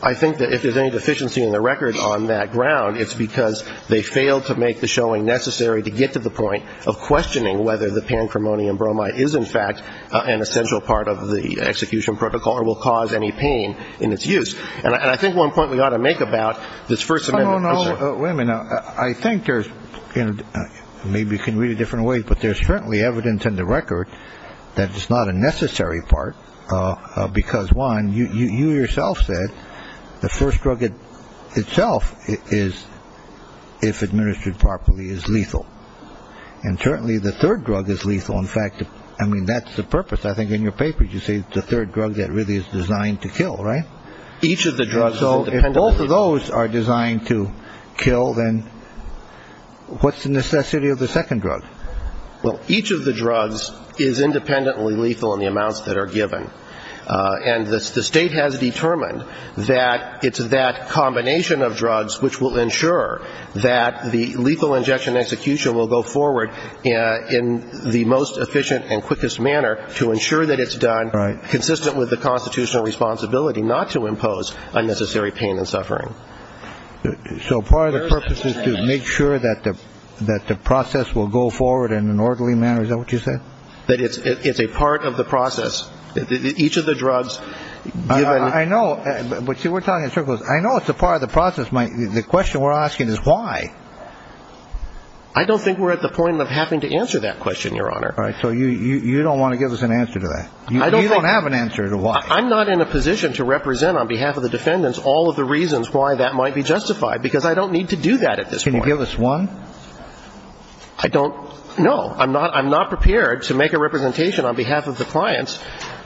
I think that if there's any deficiency in the record on that ground, it's because they failed to make the showing necessary to get to the point of questioning whether the pancremonium bromide is, in fact, an essential part of the execution protocol or will cause any pain in its use. And I think one point we ought to make about this First Amendment. No, no, no. Wait a minute. I think there's – maybe you can read it a different way, but there's certainly evidence in the record that it's not a necessary part because, one, you yourself said the first drug itself is, if administered properly, is lethal. And certainly the third drug is lethal. In fact, I mean, that's the purpose. I think in your paper you say the third drug that really is designed to kill, right? Each of the drugs is independently lethal. So if both of those are designed to kill, then what's the necessity of the second drug? Well, each of the drugs is independently lethal in the amounts that are given. And the state has determined that it's that combination of drugs which will ensure that the lethal injection execution will go forward in the most efficient and quickest manner to ensure that it's done consistent with the constitutional responsibility not to impose unnecessary pain and suffering. So part of the purpose is to make sure that the process will go forward in an orderly manner. Is that what you said? That it's a part of the process. Each of the drugs given – I know. But see, we're talking in circles. I know it's a part of the process. The question we're asking is why. I don't think we're at the point of having to answer that question, Your Honor. All right. So you don't want to give us an answer to that. You don't have an answer to why. I'm not in a position to represent on behalf of the defendants all of the reasons why that might be justified because I don't need to do that at this point. Can you give us one? I don't – no. I'm not prepared to make a representation on behalf of the clients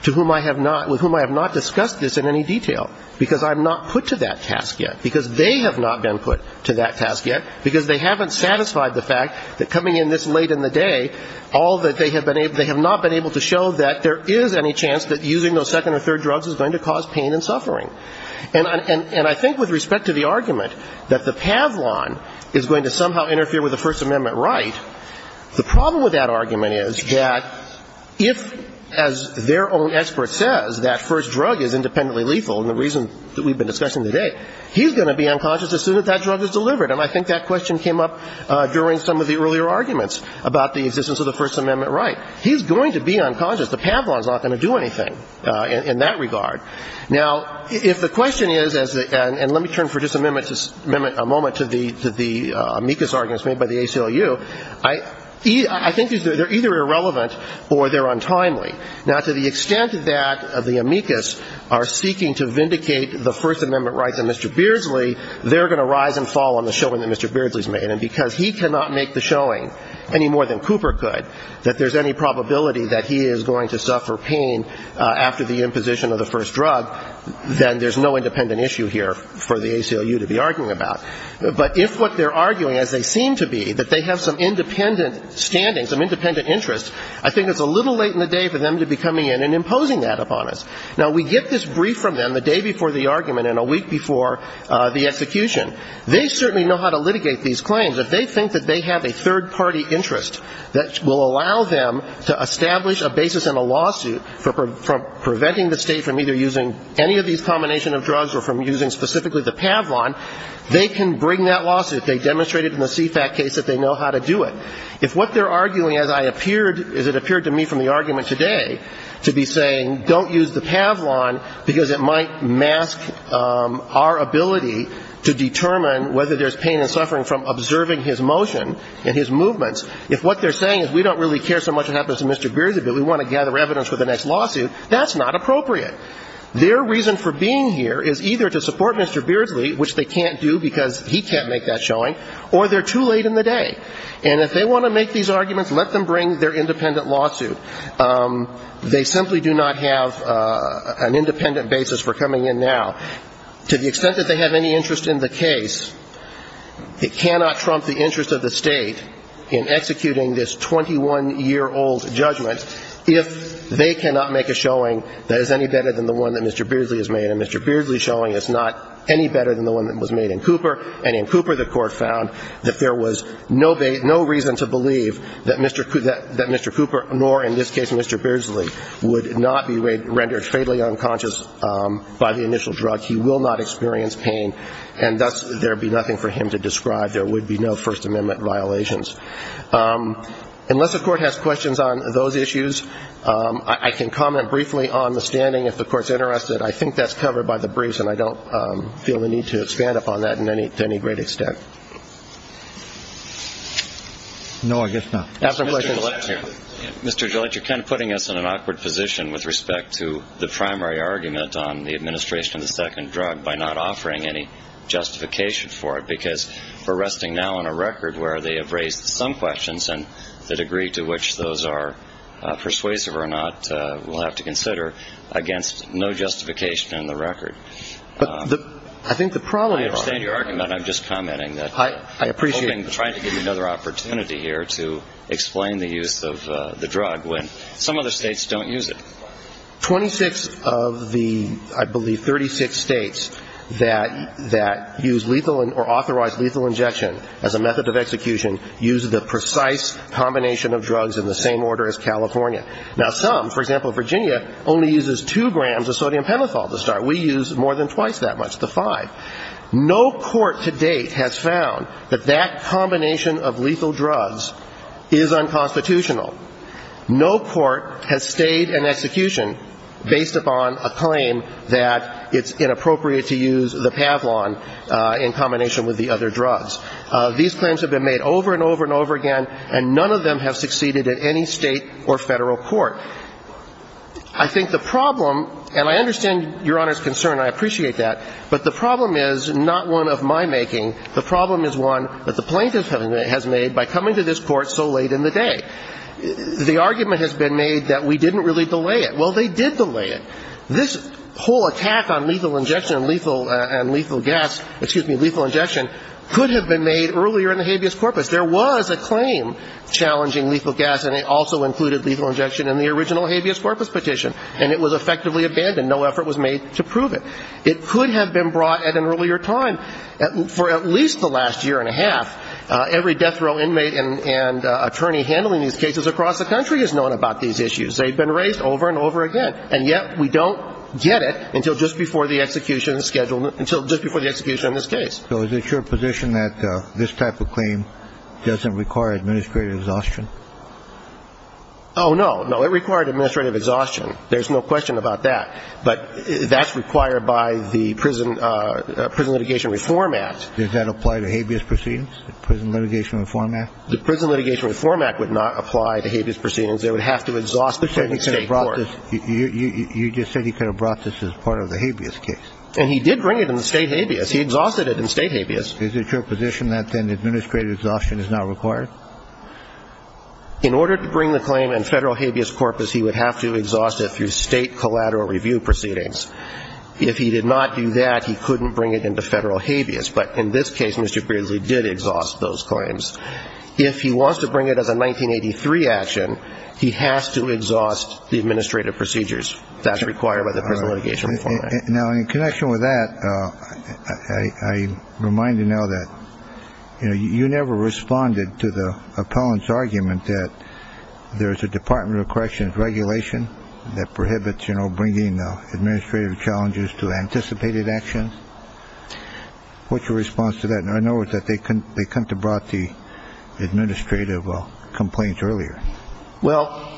to whom I have not – with whom I have not discussed this in any detail because I'm not put to that task yet because they have not been put to that task yet because they haven't satisfied the fact that coming in this late in the day, all that they have been able – they have not been able to show that there is any chance that using those second or third drugs is going to cause pain and suffering. And I think with respect to the argument that the Pavlon is going to somehow interfere with the First Amendment right, the problem with that argument is that if, as their own expert says, that first drug is independently lethal, and the reason that we've been discussing today, he's going to be unconscious as soon as that drug is delivered. And I think that question came up during some of the earlier arguments about the existence of the First Amendment right. He's going to be unconscious. The Pavlon is not going to do anything in that regard. Now, if the question is, and let me turn for just a moment to the amicus arguments made by the ACLU, I think they're either irrelevant or they're untimely. Now, to the extent that the amicus are seeking to vindicate the First Amendment rights of Mr. Beardsley, they're going to rise and fall on the showing that Mr. Beardsley's made. And because he cannot make the showing any more than Cooper could, that there's any probability that he is going to suffer pain after the imposition of the first drug, then there's no independent issue here for the ACLU to be arguing about. But if what they're arguing, as they seem to be, that they have some independent standing, some independent interest, I think it's a little late in the day for them to be coming in and imposing that upon us. Now, we get this brief from them the day before the argument and a week before the execution. They certainly know how to litigate these claims. If they think that they have a third-party interest that will allow them to establish a basis in a lawsuit for preventing the State from either using any of these combination of drugs or from using specifically the Pavlon, they can bring that lawsuit. They demonstrated in the CFAT case that they know how to do it. If what they're arguing, as it appeared to me from the argument today, to be saying don't use the Pavlon because it might mask our ability to determine whether there's pain and suffering from observing his motion and his movements, if what they're saying is we don't really care so much what happens to Mr. Beardsley, but we want to gather evidence for the next lawsuit, that's not appropriate. Their reason for being here is either to support Mr. Beardsley, which they can't do because he can't make that showing, or they're too late in the day. And if they want to make these arguments, let them bring their independent lawsuit. They simply do not have an independent basis for coming in now. To the extent that they have any interest in the case, it cannot trump the interest of the State in executing this 21-year-old judgment if they cannot make a showing that is any better than the one that Mr. Beardsley has made. And Mr. Beardsley's showing is not any better than the one that was made in Cooper. And in Cooper, the Court found that there was no reason to believe that Mr. Cooper, nor in this case Mr. Beardsley, would not be rendered fatally unconscious by the initial drug. He will not experience pain, and thus there would be nothing for him to describe. There would be no First Amendment violations. Unless the Court has questions on those issues, I can comment briefly on the standing, if the Court's interested. I think that's covered by the briefs, and I don't feel the need to expand upon that to any great extent. No, I guess not. Mr. Gillette, you're kind of putting us in an awkward position with respect to the primary argument on the administration of the second drug by not offering any justification for it, because we're resting now on a record where they have raised some questions, and the degree to which those are persuasive or not, we'll have to consider, against no justification in the record. But I think the problem... I understand your argument. I'm just commenting that. I appreciate it. I'm trying to give you another opportunity here to explain the use of the drug when some other states don't use it. Twenty-six of the, I believe, 36 states that use lethal or authorize lethal injection as a method of execution use the precise combination of drugs in the same order as California. Now, some, for example, Virginia only uses two grams of sodium pentothal to start. We use more than twice that much, the five. No court to date has found that that combination of lethal drugs is unconstitutional. No court has stayed in execution based upon a claim that it's inappropriate to use the Pavlon in combination with the other drugs. These claims have been made over and over and over again, and none of them have succeeded at any state or Federal court. I think the problem, and I understand Your Honor's concern. I appreciate that. But the problem is not one of my making. The problem is one that the plaintiff has made by coming to this Court so late in the day. The argument has been made that we didn't really delay it. Well, they did delay it. This whole attack on lethal injection and lethal gas, excuse me, lethal injection could have been made earlier in the habeas corpus. There was a claim challenging lethal gas, and it also included lethal injection in the original habeas corpus petition, and it was effectively abandoned. No effort was made to prove it. It could have been brought at an earlier time. For at least the last year and a half, every death row inmate and attorney handling these cases across the country has known about these issues. They've been raised over and over again, and yet we don't get it until just before the execution schedule, until just before the execution of this case. So is it your position that this type of claim doesn't require administrative exhaustion? Oh, no. No, it required administrative exhaustion. There's no question about that. But that's required by the Prison Litigation Reform Act. Does that apply to habeas proceedings, the Prison Litigation Reform Act? The Prison Litigation Reform Act would not apply to habeas proceedings. It would have to exhaust the state court. You just said he could have brought this as part of the habeas case. And he did bring it in the state habeas. He exhausted it in state habeas. Is it your position that then administrative exhaustion is not required? In order to bring the claim in federal habeas corpus, he would have to exhaust it through state collateral review proceedings. If he did not do that, he couldn't bring it into federal habeas. But in this case, Mr. Beardsley did exhaust those claims. If he wants to bring it as a 1983 action, he has to exhaust the administrative procedures. That's required by the Prison Litigation Reform Act. Now, in connection with that, I remind you now that, you know, you never responded to the appellant's argument that there's a Department of Corrections regulation that prohibits, you know, bringing administrative challenges to anticipated actions. What's your response to that? I know that they come to brought the administrative complaints earlier. Well,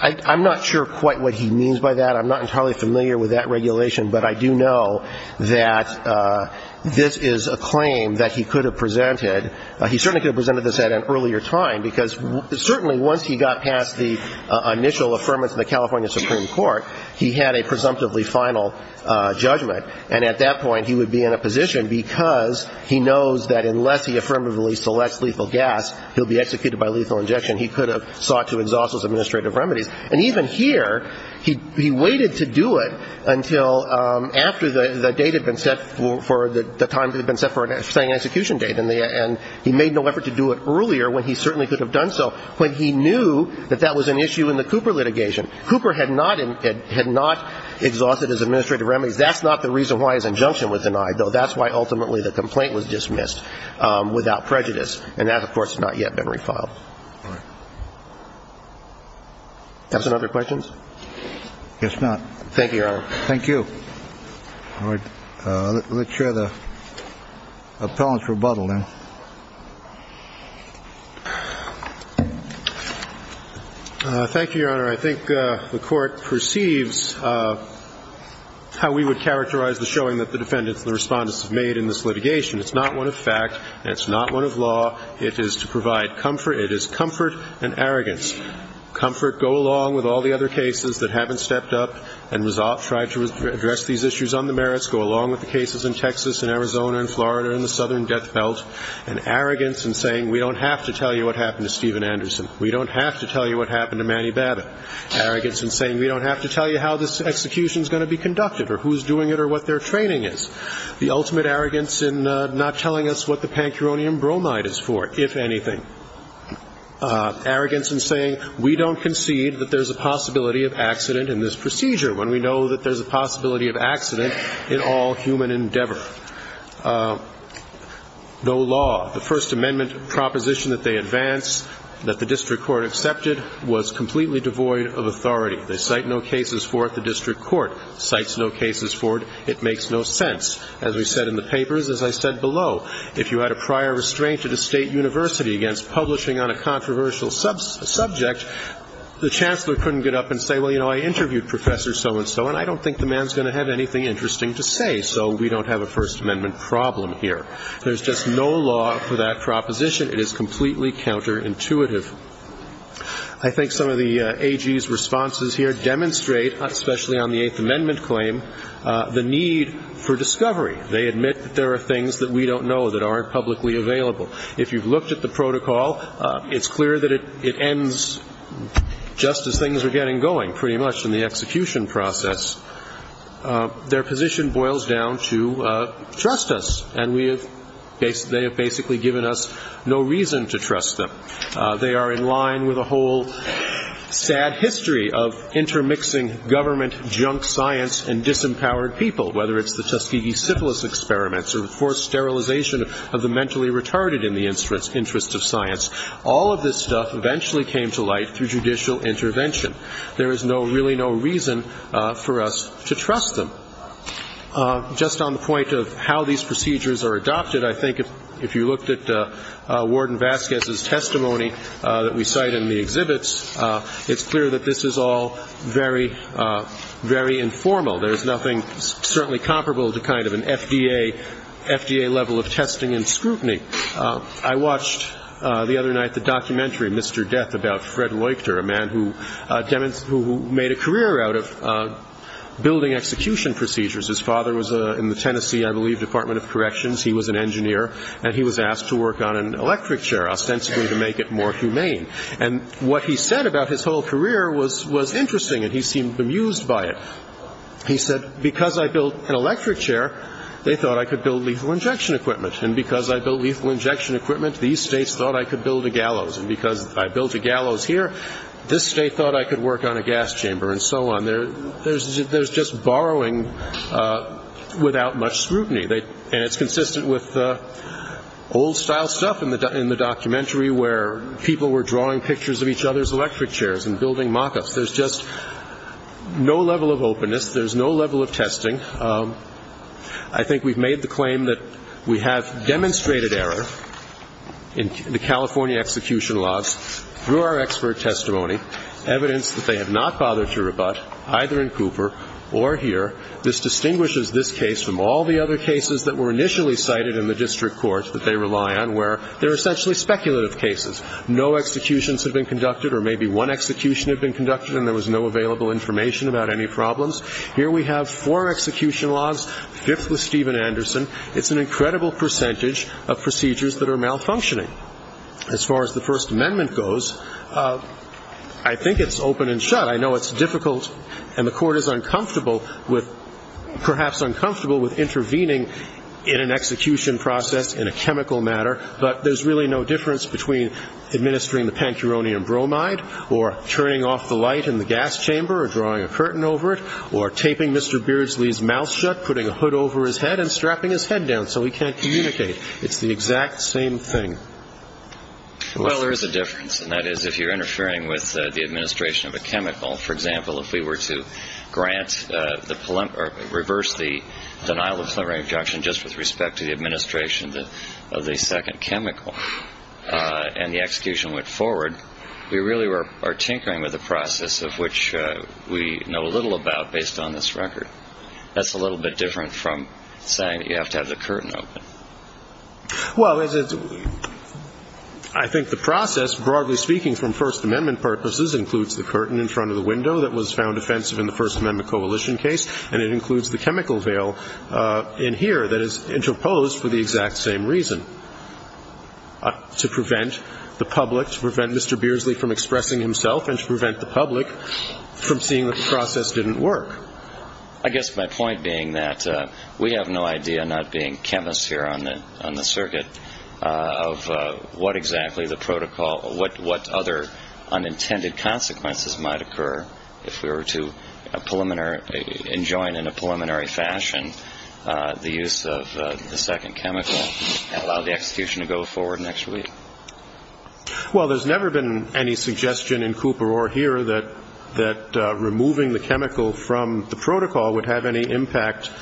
I'm not sure quite what he means by that. I'm not entirely familiar with that regulation. But I do know that this is a claim that he could have presented. He certainly could have presented this at an earlier time, because certainly once he got past the initial affirmance of the California Supreme Court, he had a presumptively final judgment. And at that point, he would be in a position, because he knows that unless he affirmatively selects lethal gas, he'll be executed by lethal injection. He could have sought to exhaust those administrative remedies. And even here, he waited to do it until after the date had been set for the time that had been set for an execution date. And he made no effort to do it earlier when he certainly could have done so, when he knew that that was an issue in the Cooper litigation. Cooper had not exhausted his administrative remedies. That's not the reason why his injunction was denied, though that's why ultimately the complaint was dismissed without prejudice. And that, of course, has not yet been refiled. Do you have some other questions? I guess not. Thank you, Your Honor. Thank you. All right. Let's hear the appellant's rebuttal then. Thank you, Your Honor. Your Honor, I think the Court perceives how we would characterize the showing that the defendants and the respondents have made in this litigation. It's not one of fact, and it's not one of law. It is to provide comfort. It is comfort and arrogance. Comfort, go along with all the other cases that haven't stepped up and tried to address these issues on the merits. Go along with the cases in Texas and Arizona and Florida and the Southern Death Belt. And arrogance in saying we don't have to tell you what happened to Steven Anderson. We don't have to tell you what happened to Manny Babbitt. Arrogance in saying we don't have to tell you how this execution is going to be conducted or who's doing it or what their training is. The ultimate arrogance in not telling us what the pancuronium bromide is for, if anything. Arrogance in saying we don't concede that there's a possibility of accident in this procedure when we know that there's a possibility of accident in all human endeavor. No law. The First Amendment proposition that they advance, that the district court accepted, was completely devoid of authority. They cite no cases for it. The district court cites no cases for it. It makes no sense. As we said in the papers, as I said below, if you had a prior restraint at a state university against publishing on a controversial subject, the chancellor couldn't get up and say, well, you know, I interviewed Professor so-and-so, and I don't think the man's going to have anything interesting to say. So we don't have a First Amendment problem here. There's just no law for that proposition. It is completely counterintuitive. I think some of the AG's responses here demonstrate, especially on the Eighth Amendment claim, the need for discovery. They admit that there are things that we don't know that aren't publicly available. If you've looked at the protocol, it's clear that it ends just as things are getting going, pretty much, in the execution process. Their position boils down to trust us, and they have basically given us no reason to trust them. They are in line with a whole sad history of intermixing government junk science and disempowered people, whether it's the Tuskegee syphilis experiments or the forced sterilization of the mentally retarded in the interest of science. All of this stuff eventually came to light through judicial intervention. There is really no reason for us to trust them. Just on the point of how these procedures are adopted, I think if you looked at Warden Vasquez's testimony that we cite in the exhibits, it's clear that this is all very, very informal. There's nothing certainly comparable to kind of an FDA level of testing and scrutiny. I watched the other night the documentary, Mr. Death, about Fred Leuchter, a man who made a career out of building execution procedures. His father was in the Tennessee, I believe, Department of Corrections. He was an engineer, and he was asked to work on an electric chair, ostensibly to make it more humane. And what he said about his whole career was interesting, and he seemed bemused by it. He said, because I built an electric chair, they thought I could build lethal injection equipment, and because I built lethal injection equipment, these states thought I could build a gallows, and because I built a gallows here, this state thought I could work on a gas chamber, and so on. There's just borrowing without much scrutiny, and it's consistent with the old-style stuff in the documentary where people were drawing pictures of each other's electric chairs and building mock-ups. There's just no level of openness. There's no level of testing. I think we've made the claim that we have demonstrated error in the California execution laws through our expert testimony, evidence that they have not bothered to rebut, either in Cooper or here. This distinguishes this case from all the other cases that were initially cited in the district court that they rely on, where they're essentially speculative cases. No executions have been conducted, or maybe one execution had been conducted and there was no available information about any problems. Here we have four execution laws, fifth with Steven Anderson. It's an incredible percentage of procedures that are malfunctioning. As far as the First Amendment goes, I think it's open and shut. I know it's difficult, and the court is uncomfortable with, perhaps uncomfortable with intervening in an execution process in a chemical matter, but there's really no difference between administering the pancuronium bromide or turning off the light in the gas chamber or drawing a curtain over it or taping Mr. Beardsley's mouth shut, putting a hood over his head, and strapping his head down so he can't communicate. It's the exact same thing. Well, there is a difference, and that is if you're interfering with the administration of a chemical. For example, if we were to reverse the denial of preliminary objection just with respect to the administration of the second chemical and the execution went forward, we really are tinkering with a process of which we know a little about based on this record. That's a little bit different from saying that you have to have the curtain open. Well, I think the process, broadly speaking from First Amendment purposes, includes the curtain in front of the window that was found offensive in the First Amendment coalition case, and it includes the chemical veil in here that is interposed for the exact same reason, to prevent the public, to prevent Mr. Beardsley from expressing himself and to prevent the public from seeing that the process didn't work. I guess my point being that we have no idea, not being chemists here on the circuit, of what exactly the protocol or what other unintended consequences might occur if we were to enjoin in a preliminary fashion the use of the second chemical and allow the execution to go forward next week. Well, there's never been any suggestion in Cooper or here that removing the chemical from the protocol would have any adverse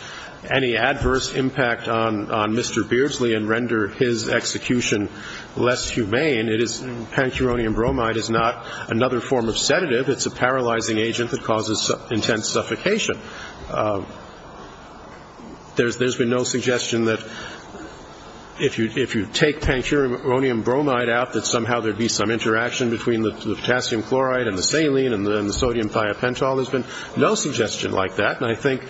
impact on Mr. Beardsley and render his execution less humane. Pancuronium bromide is not another form of sedative. It's a paralyzing agent that causes intense suffocation. There's been no suggestion that if you take pancuronium bromide out, that somehow there would be some interaction between the potassium chloride and the saline and the sodium thiopental. There's been no suggestion like that, and I think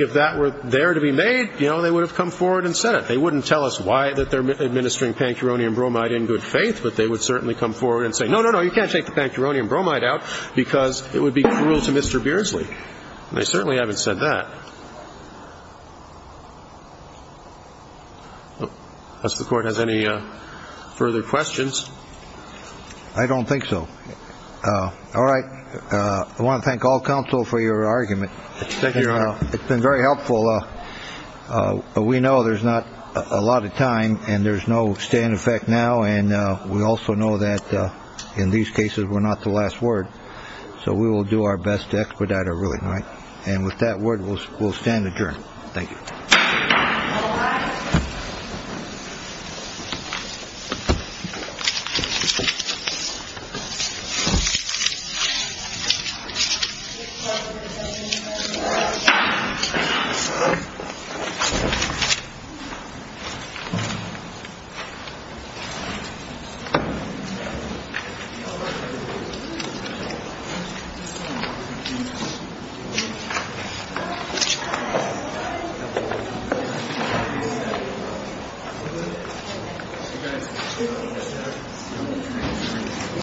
if that were there to be made, you know, they would have come forward and said it. They wouldn't tell us why they're administering pancuronium bromide in good faith, but they would certainly come forward and say, no, no, no, you can't take the pancuronium bromide out because it would be cruel to Mr. Beardsley. And they certainly haven't said that. Does the Court have any further questions? I don't think so. All right. I want to thank all counsel for your argument. Thank you, Your Honor. It's been very helpful. We know there's not a lot of time and there's no stand effect now, and we also know that in these cases we're not the last word. So we will do our best to expedite our ruling. And with that word, we'll stand adjourned. Thank you. Thank you.